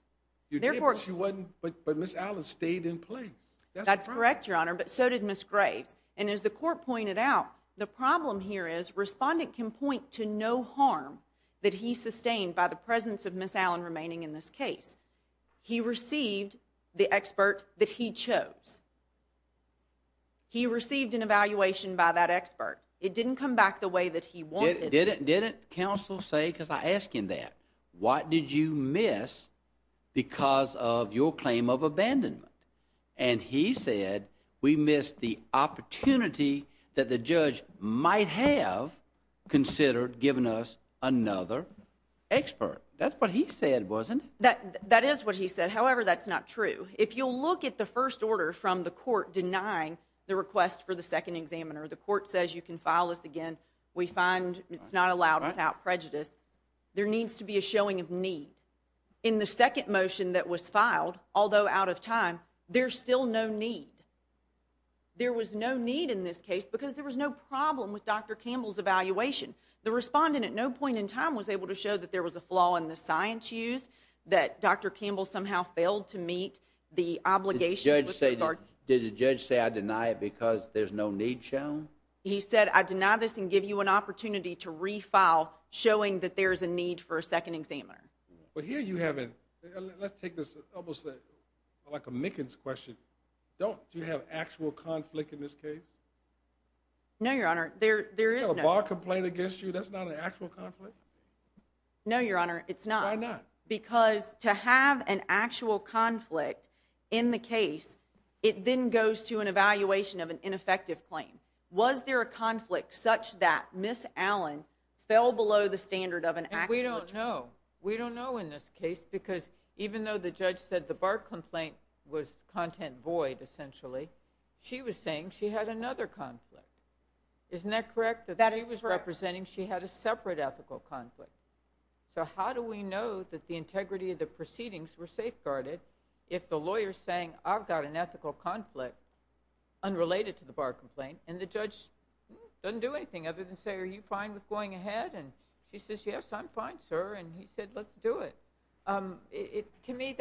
But Ms. Allen stayed in place. That's correct, Your Honor, but so did Ms. Graves. And as the court pointed out, the problem here is respondent can point to no harm that he sustained by the presence of Ms. Allen remaining in this case. He received the expert that he chose. He received an evaluation by that expert. It didn't come back the way that he wanted. Didn't counsel say, because I ask him that, what did you miss because of your claim of abandonment? And he said, we missed the opportunity that the judge might have considered giving us another expert. That's what he said, wasn't it? That is what he said. However, that's not true. If you'll look at the first order from the court denying the request for the second examiner, the court says you can file this again. We find it's not allowed without prejudice. There needs to be a showing of need. In the second motion that was filed, although out of time, there's still no need. There was no need in this case because there was no problem with Dr. Campbell's evaluation. The respondent at no point in time was able to show that there was a flaw in the science used, that Dr. Campbell somehow failed to meet the obligation. Did the judge say, I deny it because there's no need shown? He said, I deny this and give you an opportunity to refile showing that there's a need for a second examiner. But here you have a... Let's take this almost like a Mickens question. Don't you have actual conflict in this case? No, Your Honor, there is no... You have a bar complaint against you, that's not an actual conflict? No, Your Honor, it's not. Why not? Because to have an actual conflict in the case, it then goes to an evaluation of an ineffective claim. Was there a conflict such that Ms. Allen fell below the standard of an actual... We don't know. We don't know in this case because even though the judge said the bar complaint was content void, essentially, she was saying she had another conflict. Isn't that correct? That is correct. She was representing she had a separate ethical conflict. So how do we know that the integrity of the proceedings were safeguarded if the lawyer's saying I've got an ethical conflict unrelated to the bar complaint and the judge doesn't do anything other than say, are you fine with going ahead? And she says, yes, I'm fine, sir. And he said, let's do it. To me,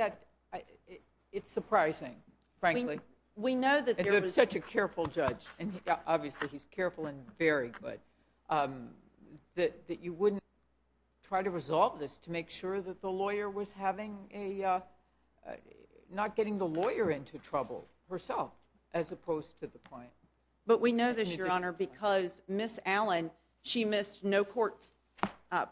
it's surprising, frankly. We know that there was... And you're such a careful judge, and obviously he's careful and very good, that you wouldn't try to resolve this to make sure that the lawyer was having a... not getting the lawyer into trouble herself as opposed to the client. But we know this, Your Honor, because Ms. Allen, she missed no court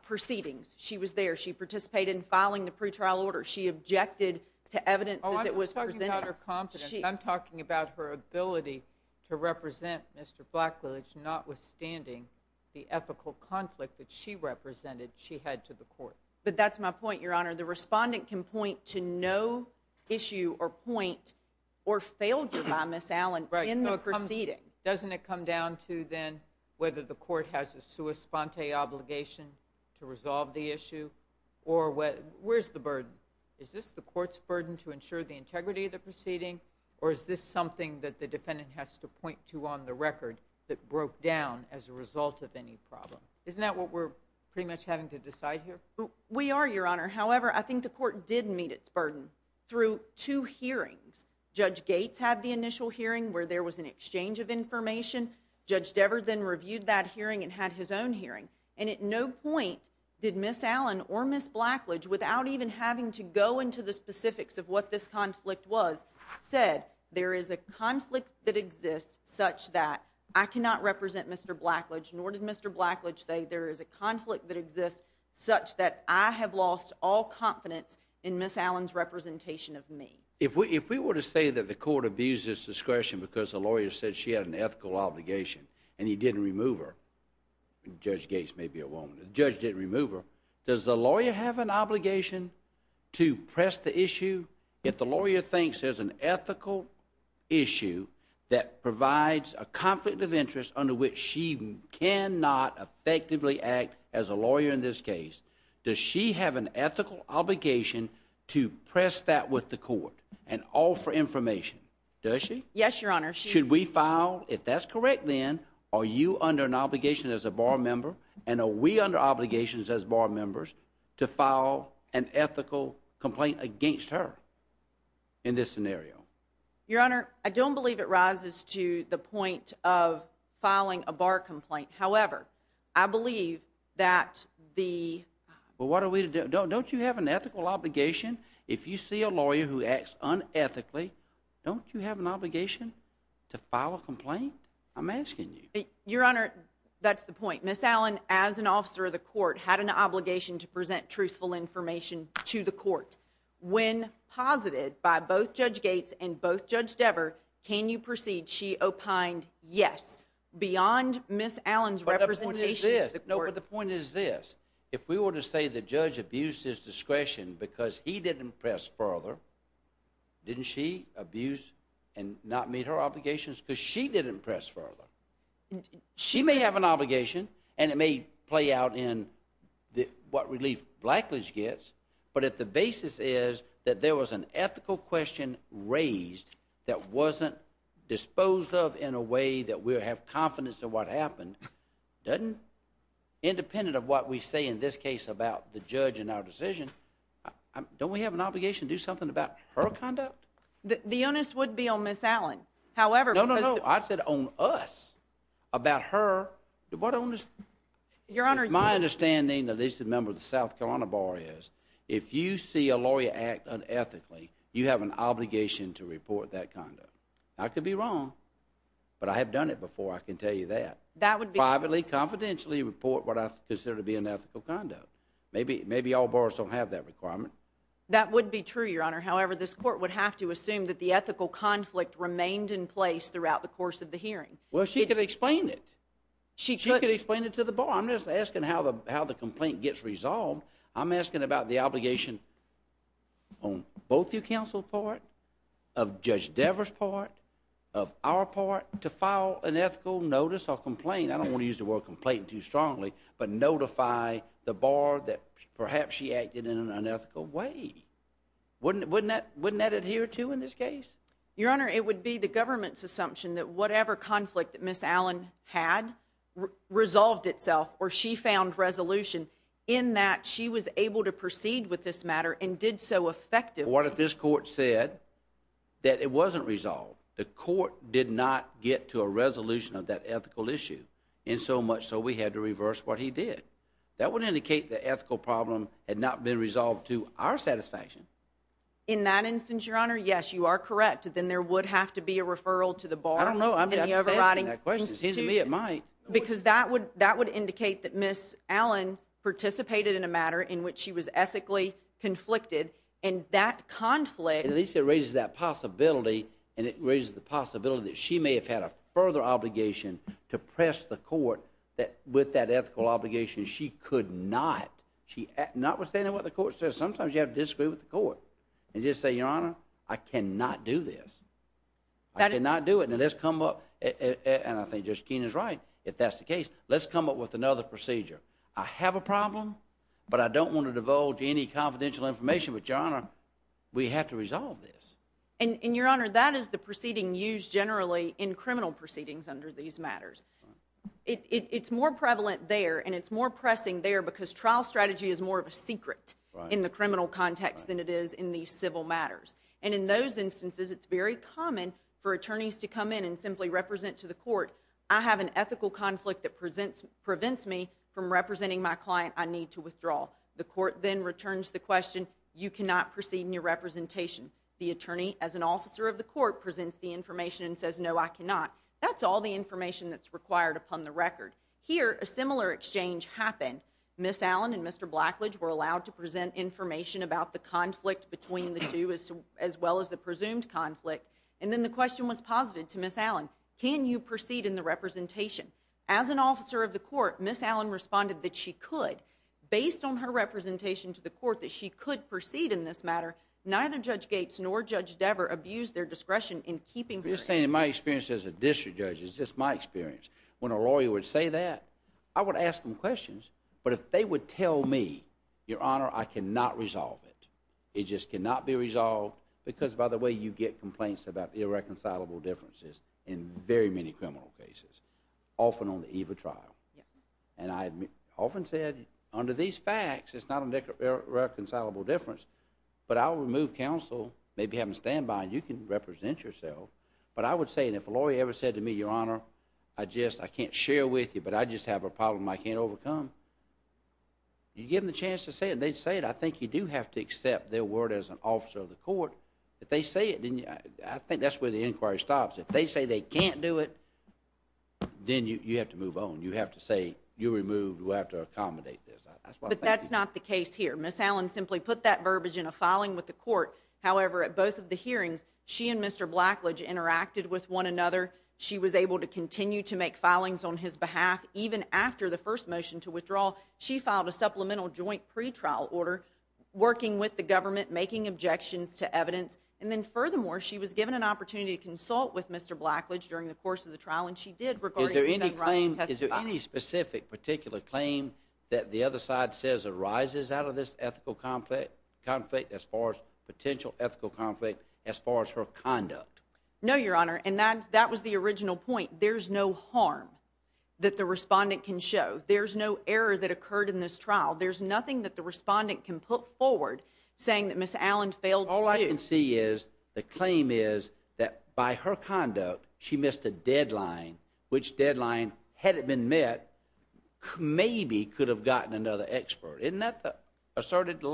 proceedings. She was there. She participated in filing the pretrial order. She objected to evidence as it was presented. I'm talking about her confidence. I'm talking about her ability to represent Mr. Blacklidge, notwithstanding the ethical conflict that she represented she had to the court. But that's my point, Your Honor. The respondent can point to no issue or point or failure by Ms. Allen in the proceeding. Doesn't it come down to, then, whether the court has a sua sponte obligation to resolve the issue? Or where's the burden? Is this the court's burden to ensure the integrity of the proceeding? Or is this something that the defendant has to point to on the record that broke down as a result of any problem? Isn't that what we're pretty much having to decide here? We are, Your Honor. However, I think the court did meet its burden through two hearings. Judge Gates had the initial hearing where there was an exchange of information. Judge Dever then reviewed that hearing and had his own hearing. And at no point did Ms. Allen or Ms. Blacklidge, without even having to go into the specifics of what this conflict was, said there is a conflict that exists such that I cannot represent Mr. Blacklidge, nor did Mr. Blacklidge say there is a conflict that exists such that I have lost all confidence in Ms. Allen's representation of me. If we were to say that the court abused its discretion because the lawyer said she had an ethical obligation and he didn't remove her, and Judge Gates may be a woman, the judge didn't remove her, does the lawyer have an obligation to press the issue? If the lawyer thinks there's an ethical issue that provides a conflict of interest under which she cannot effectively act as a lawyer in this case, does she have an ethical obligation to press that with the court and offer information? Does she? Yes, Your Honor. Should we file if that's correct, then are you under an obligation as a bar member and are we under obligations as bar members to file an ethical complaint against her in this scenario? Your Honor, I don't believe it rises to the point of filing a bar complaint. However, I believe that the... Well, what are we to do? Don't you have an ethical obligation? If you see a lawyer who acts unethically, don't you have an obligation to file a complaint? I'm asking you. Your Honor, that's the point. Ms. Allen, as an officer of the court, had an obligation to present truthful information to the court. When posited by both Judge Gates and both Judge Dever, can you proceed? She opined yes. Beyond Ms. Allen's representation... But the point is this. No, but the point is this. If we were to say the judge abused his discretion because he didn't press further, didn't she abuse and not meet her obligations because she didn't press further? She may have an obligation and it may play out in what relief Blackledge gets, but if the basis is that there was an ethical question raised that wasn't disposed of in a way that we have confidence of what happened, doesn't... Independent of what we say in this case about the judge and our decision, don't we have an obligation to do something about her conduct? The onus would be on Ms. Allen. However... No, no, no. I said on us. About her. What onus... Your Honor... It's my understanding, at least the member of the South Carolina Bar is, if you see a lawyer act unethically, you have an obligation to report that conduct. I could be wrong, but I have done it before. I can tell you that. That would be... Privately, confidentially report what I consider to be unethical conduct. Maybe all bars don't have that requirement. That would be true, Your Honor. However, this court would have to assume that the ethical conflict remained in place throughout the course of the hearing. Well, she could explain it. She could... She could explain it to the bar. I'm just asking how the complaint gets resolved. I'm asking about the obligation on both your counsel's part, of Judge Devers' part, of our part, to file an ethical notice or complaint. I don't want to use the word complaint too strongly, but notify the bar that perhaps she acted in an unethical way. Wouldn't that adhere to in this case? Your Honor, it would be the government's assumption that whatever conflict that Ms. Allen had resolved itself, or she found resolution in that she was able to proceed with this matter and did so effectively. What if this court said that it wasn't resolved? The court did not get to a resolution of that ethical issue, insomuch so we had to reverse what he did. That would indicate the ethical problem had not been resolved to our satisfaction. In that instance, Your Honor, yes, you are correct. Then there would have to be a referral to the bar. I don't know. I'm just asking that question. It seems to me it might. Because that would indicate that Ms. Allen participated in a matter in which she was ethically conflicted, and that conflict. At least it raises that possibility, and it raises the possibility that she may have had a further obligation to press the court with that ethical obligation she could not. She notwithstanding what the court says, sometimes you have to disagree with the court and just say, Your Honor, I cannot do this. I cannot do it. And let's come up, and I think Judge Keene is right if that's the case, let's come up with another procedure. I have a problem, but I don't want to divulge any confidential information. But, Your Honor, we have to resolve this. And, Your Honor, that is the proceeding used generally in criminal proceedings under these matters. It's more prevalent there, and it's more pressing there because trial strategy is more of a secret in the criminal context than it is in the civil matters. And in those instances, it's very common for attorneys to come in and simply represent to the court, I have an ethical conflict that prevents me from representing my client I need to withdraw. The court then returns the question, You cannot proceed in your representation. The attorney, as an officer of the court, presents the information and says, No, I cannot. That's all the information that's required upon the record. Here, a similar exchange happened. Ms. Allen and Mr. Blackledge were allowed to present information about the conflict between the two as well as the presumed conflict. And then the question was posited to Ms. Allen, Can you proceed in the representation? As an officer of the court, Ms. Allen responded that she could, based on her representation to the court, that she could proceed in this matter. Neither Judge Gates nor Judge Dever abused their discretion in keeping saying in my experience as a district judge is just my experience. When a lawyer would say that I would ask them questions, but if they would tell me, Your Honor, I cannot resolve it. It just cannot be resolved because by the way you get complaints about irreconcilable differences in very many criminal cases, often on the eve of trial. And I often said, Under these facts, it's not an irreconcilable difference, but I'll remove counsel, maybe have them stand by and you can represent yourself. But I would say, And if a lawyer ever said to me, Your Honor, I just, I can't share with you, but I just have a problem I can't overcome. You give them the chance to say it. They'd say it. I think you do have to accept their word as an officer of the court. If they say it, I think that's where the inquiry stops. If they say they can't do it, then you have to move on. You have to say, you remove, you have to accommodate this. But that's not the case here. Miss Allen simply put that verbiage in a filing with the court. However, at both of the hearings, she and Mr. Blackledge interacted with one another. She was able to continue to make filings on his behalf. Even after the first motion to withdraw, she filed a supplemental joint pretrial order, working with the government, making objections to evidence. And then furthermore, she was given an opportunity to consult with Mr. Blackledge during the course of the trial, and she did. Is there any specific particular claim that the other side says arises out of this ethical conflict as far as potential ethical conflict as far as her conduct? No, Your Honor. And that was the original point. There's no harm that the respondent can show. There's no error that occurred in this trial. There's nothing that the respondent can put forward saying that Miss Allen failed. All I can see is the claim is that by her conduct, she missed a deadline, which deadline had it been met, maybe could have gotten another expert. Isn't that the asserted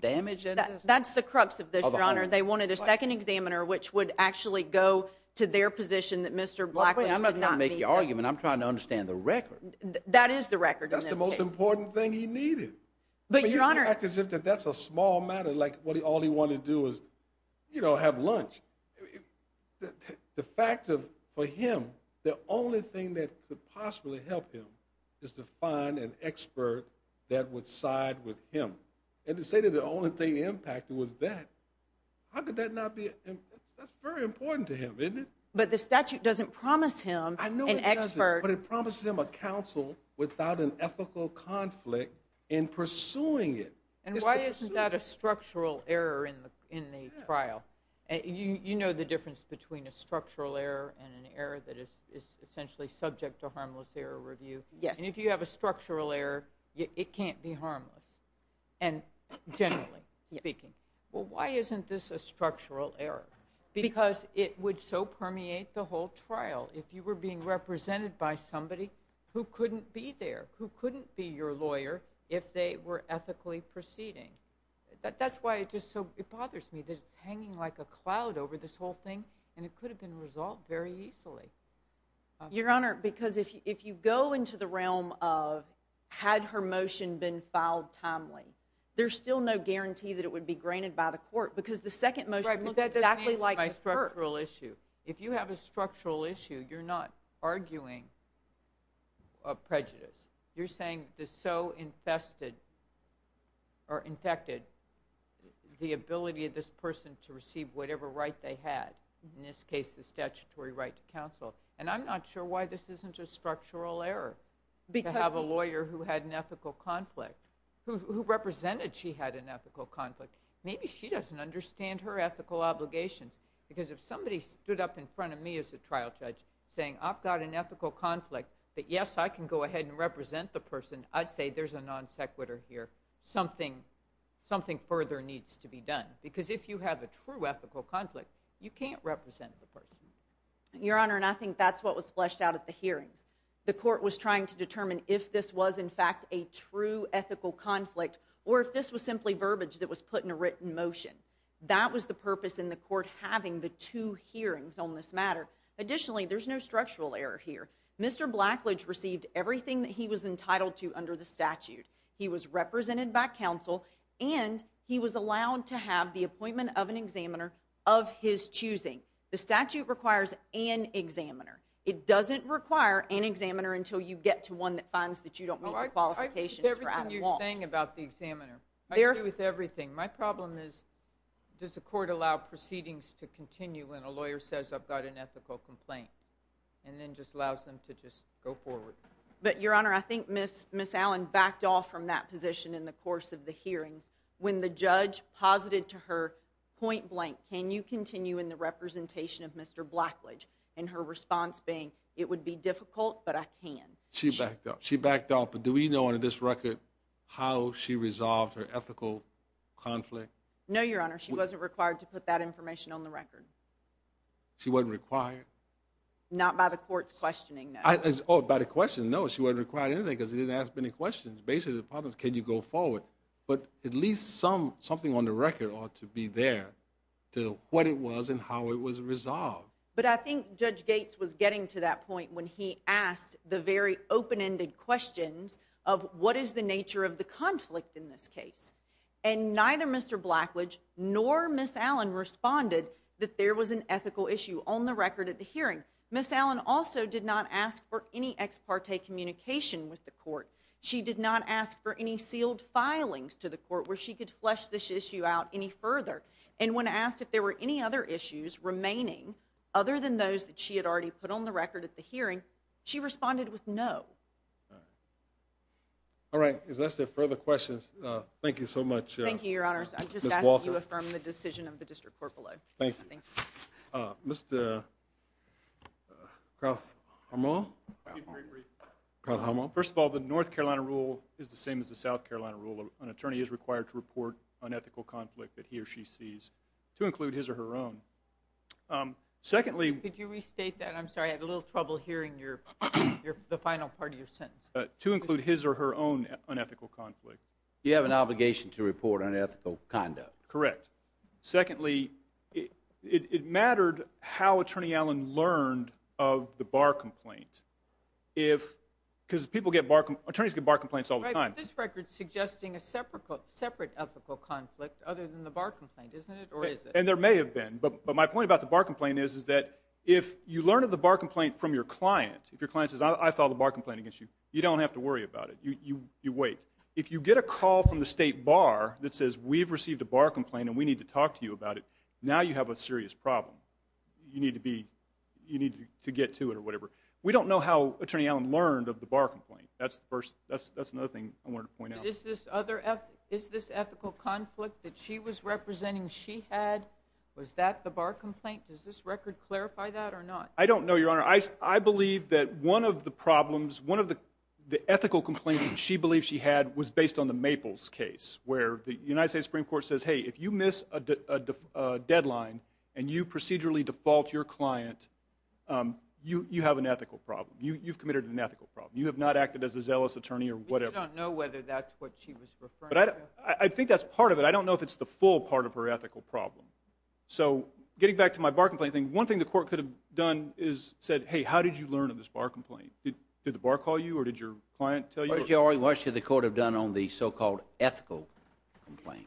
damage? That's the crux of this, Your Honor. They wanted a second examiner, which would actually go to their position that Mr. Blackley, I'm not going to make the argument. I'm trying to understand the record. That is the record. That's the most important thing he needed. But Your Honor, the fact is that that's a small matter. Like what he, all he wanted to do is, you know, have lunch. The fact of, for him, the only thing that could possibly help him is to find an expert that would side with him. And to say that the only thing impacted was that, how could that not be? That's very important to him. But the statute doesn't promise him an expert. But it promises him a counsel without an ethical conflict in pursuing it. And why isn't that a structural error in the trial? You know the difference between a structural error and an error that is essentially subject to harmless error review. Yes. And if you have a structural error, it can't be harmless. And generally speaking. Yes. Well, why isn't this a structural error? Because it would so permeate the whole trial. If you were being represented by somebody who couldn't be there, who couldn't be your lawyer, if they were ethically proceeding. That's why it just so, it bothers me that it's hanging like a cloud over this whole thing. And it could have been resolved very easily. Your Honor, because if you go into the realm of, had her motion been filed timely, there's still no guarantee that it would be granted by the court. Because the second motion looks exactly like the first. Right, but that doesn't answer my structural issue. If you have a structural issue, you're not arguing prejudice. You're saying it's so infested, or infected, the ability of this person to receive whatever right they had. In this case, the statutory right to counsel. And I'm not sure why this isn't a structural error. Because. To have a lawyer who had an ethical conflict. Who represented she had an ethical conflict. Maybe she doesn't understand her ethical obligations. Because if somebody stood up in front of me as a trial judge, saying I've got an ethical conflict, that yes, I can go ahead and represent the person. I'd say there's a non sequitur here. Something further needs to be done. Because if you have a true ethical conflict, you can't represent the person. Your Honor, and I think that's what was fleshed out at the hearings. The court was trying to determine if this was, in fact, a true ethical conflict. Or if this was simply verbiage that was put in a written motion. That was the purpose in the court having the two hearings on this matter. Additionally, there's no structural error here. Mr. Blackledge received everything that he was entitled to under the statute. He was represented by counsel. And he was allowed to have the appointment of an examiner of his choosing. The statute requires an examiner. It doesn't require an examiner until you get to one that finds that you don't meet your qualifications for Adam Walsh. I agree with everything you're saying about the examiner. I agree with everything. My problem is, does the court allow proceedings to continue when a lawyer says I've got an ethical complaint? And then just allows them to just go forward. But, Your Honor, I think Ms. Allen backed off from that position in the course of the hearings. When the judge posited to her point blank, can you continue in the representation of Mr. Blackledge? And her response being, it would be difficult, but I can. She backed off. But do we know under this record how she resolved her ethical conflict? No, Your Honor. She wasn't required to put that information on the record. She wasn't required? Not by the court's questioning, no. Oh, by the question, no. She wasn't required anything because she didn't ask many questions. Basically, the problem is, can you go forward? But at least something on the record ought to be there, to what it was and how it was resolved. But I think Judge Gates was getting to that point when he asked the very open-ended questions of what is the nature of the conflict in this case. And neither Mr. Blackledge nor Ms. Allen responded that there was an ethical issue. On the record at the hearing, Ms. Allen also did not ask for any ex parte communication with the court. She did not ask for any sealed filings to the court where she could flesh this issue out any further. And when asked if there were any other issues remaining, other than those that she had already put on the record at the hearing, she responded with no. All right. Unless there are further questions, thank you so much, Ms. Walker. Thank you, Your Honors. I just ask that you affirm the decision of the District Court below. Thank you. Thank you. Mr. Krauthammer? Krauthammer. First of all, the North Carolina rule is the same as the South Carolina rule. An attorney is required to report unethical conflict that he or she sees, to include his or her own. Secondly, Could you restate that? I'm sorry, I had a little trouble hearing the final part of your sentence. To include his or her own unethical conflict. You have an obligation to report unethical conduct. Correct. Secondly, it mattered how Attorney Allen learned of the bar complaint. Because attorneys get bar complaints all the time. Right, but this record is suggesting a separate ethical conflict, other than the bar complaint, isn't it? Or is it? And there may have been. But my point about the bar complaint is, is that if you learn of the bar complaint from your client, if your client says, I filed a bar complaint against you, you don't have to worry about it. You wait. If you get a call from the state bar that says, we've received a bar complaint and we need to talk to you about it, now you have a serious problem. You need to get to it or whatever. We don't know how Attorney Allen learned of the bar complaint. That's another thing I wanted to point out. Is this ethical conflict that she was representing she had, was that the bar complaint? Does this record clarify that or not? I don't know, Your Honor. I believe that one of the problems, one of the ethical complaints that she believes she had, was based on the Maples case. Where the United States Supreme Court says, hey, if you miss a deadline and you procedurally default your client, you have an ethical problem. You've committed an ethical problem. You have not acted as a zealous attorney or whatever. We don't know whether that's what she was referring to. I think that's part of it. I don't know if it's the full part of her ethical problem. So getting back to my bar complaint thing, one thing the court could have done is said, hey, how did you learn of this bar complaint? Did the bar call you or did your client tell you? What should the court have done on the so-called ethical complaint?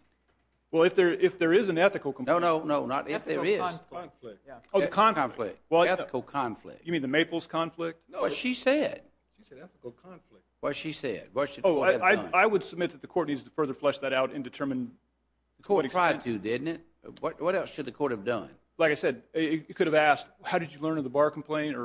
Well, if there is an ethical complaint. No, no, no. Not if there is. Ethical conflict. Oh, the conflict. Ethical conflict. You mean the Maples conflict? No. What she said. She said ethical conflict. What she said. Oh, I would submit that the court needs to further flesh that out and determine to what extent. The court tried to, didn't it? What else should the court have done? Like I said, you could have asked, how did you learn of the bar complaint?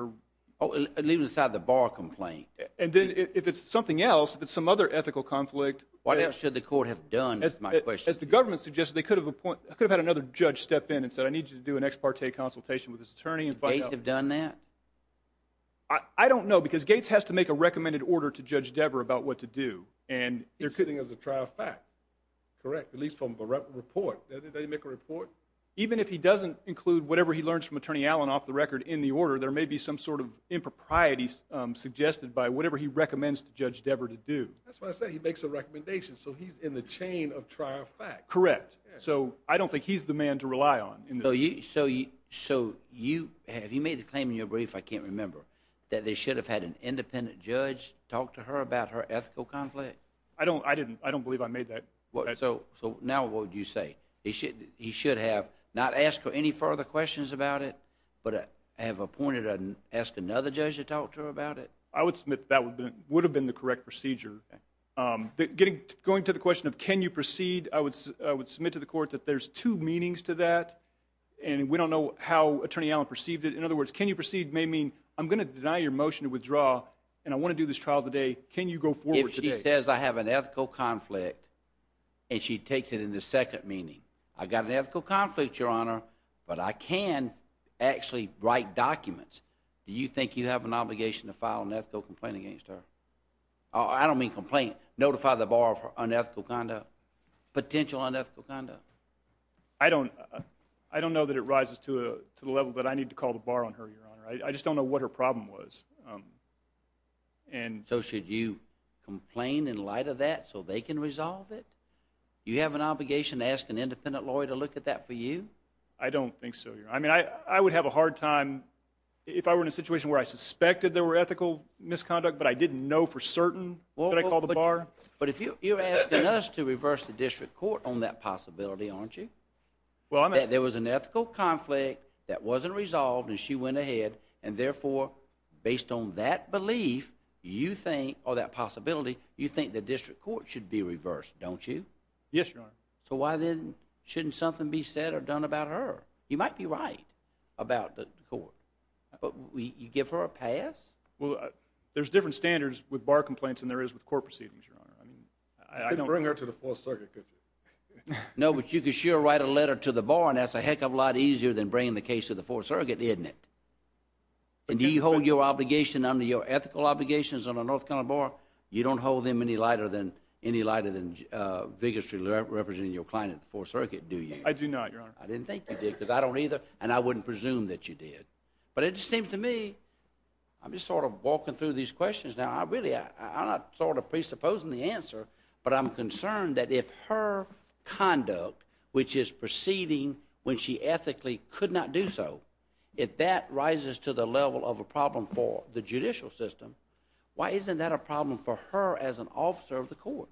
Oh, leaving aside the bar complaint. And then if it's something else, if it's some other ethical conflict. What else should the court have done is my question. As the government suggested, they could have had another judge step in and said I need you to do an ex parte consultation with this attorney. Did Gates have done that? I don't know because Gates has to make a recommended order to Judge Dever about what to do. And they're sitting as a trial fact. Correct. At least from the report. Did they make a report? Even if he doesn't include whatever he learns from Attorney Allen off the record in the order, there may be some sort of impropriety suggested by whatever he recommends to Judge Dever to do. That's what I said. He makes a recommendation. So he's in the chain of trial fact. Correct. So I don't think he's the man to rely on. So have you made the claim in your brief, I can't remember, that they should have had an independent judge talk to her about her ethical conflict? I don't believe I made that. So now what would you say? He should have not asked her any further questions about it, but have appointed another judge to talk to her about it? I would submit that would have been the correct procedure. Going to the question of can you proceed, I would submit to the court that there's two meanings to that, and we don't know how Attorney Allen perceived it. In other words, can you proceed may mean I'm going to deny your motion to withdraw and I want to do this trial today. Can you go forward today? She says I have an ethical conflict, and she takes it in the second meaning. I've got an ethical conflict, Your Honor, but I can actually write documents. Do you think you have an obligation to file an ethical complaint against her? I don't mean complaint. Notify the bar of her unethical conduct, potential unethical conduct. I don't know that it rises to the level that I need to call the bar on her, Your Honor. I just don't know what her problem was. So should you complain in light of that so they can resolve it? Do you have an obligation to ask an independent lawyer to look at that for you? I don't think so, Your Honor. I would have a hard time if I were in a situation where I suspected there were ethical misconduct, but I didn't know for certain that I called the bar. But you're asking us to reverse the district court on that possibility, aren't you? There was an ethical conflict that wasn't resolved, and she went ahead, and therefore, based on that belief, you think, or that possibility, you think the district court should be reversed, don't you? Yes, Your Honor. So why then shouldn't something be said or done about her? You might be right about the court. You give her a pass? Well, there's different standards with bar complaints than there is with court proceedings, Your Honor. I couldn't bring her to the Fourth Circuit, could you? No, but you could sure write a letter to the bar, and that's a heck of a lot easier than bringing the case to the Fourth Circuit, isn't it? And do you hold your obligation under your ethical obligations on a North Carolina bar, you don't hold them any lighter than any lighter than vigorously representing your client at the Fourth Circuit, do you? I do not, Your Honor. I didn't think you did, because I don't either, and I wouldn't presume that you did. But it just seems to me, I'm just sort of walking through these questions now, I really am not sort of presupposing the answer, but I'm concerned that if her conduct, which is proceeding when she ethically could not do so, if that rises to the level of a problem for the judicial system, why isn't that a problem for her as an officer of the court?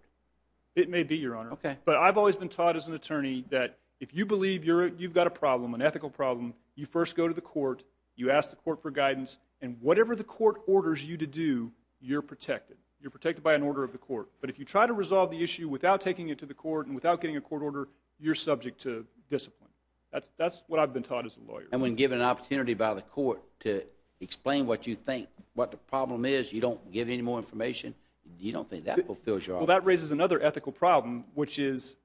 It may be, Your Honor. Okay. But I've always been taught as an attorney that if you believe you've got a problem, an ethical problem, you first go to the court, you ask the court for guidance, and whatever the court orders you to do, you're protected. You're protected by an order of the court. But if you try to resolve the issue without taking it to the court and without getting a court order, you're subject to discipline. That's what I've been taught as a lawyer. And when given an opportunity by the court to explain what you think, what the problem is, you don't give any more information? You don't think that fulfills your argument? Well, that raises another ethical problem, which is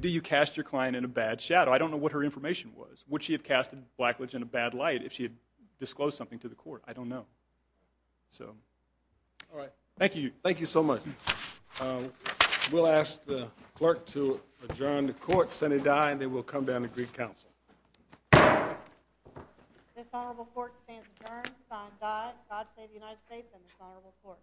do you cast your client in a bad shadow? I don't know what her information was. Would she have cast Blackledge in a bad light if she had disclosed something to the court? I don't know. All right. Thank you. Thank you so much. We'll ask the clerk to adjourn the court. Senate die, and then we'll come down to Greek Council. This honorable court stands adjourned. Signed, God Save the United States and this honorable court.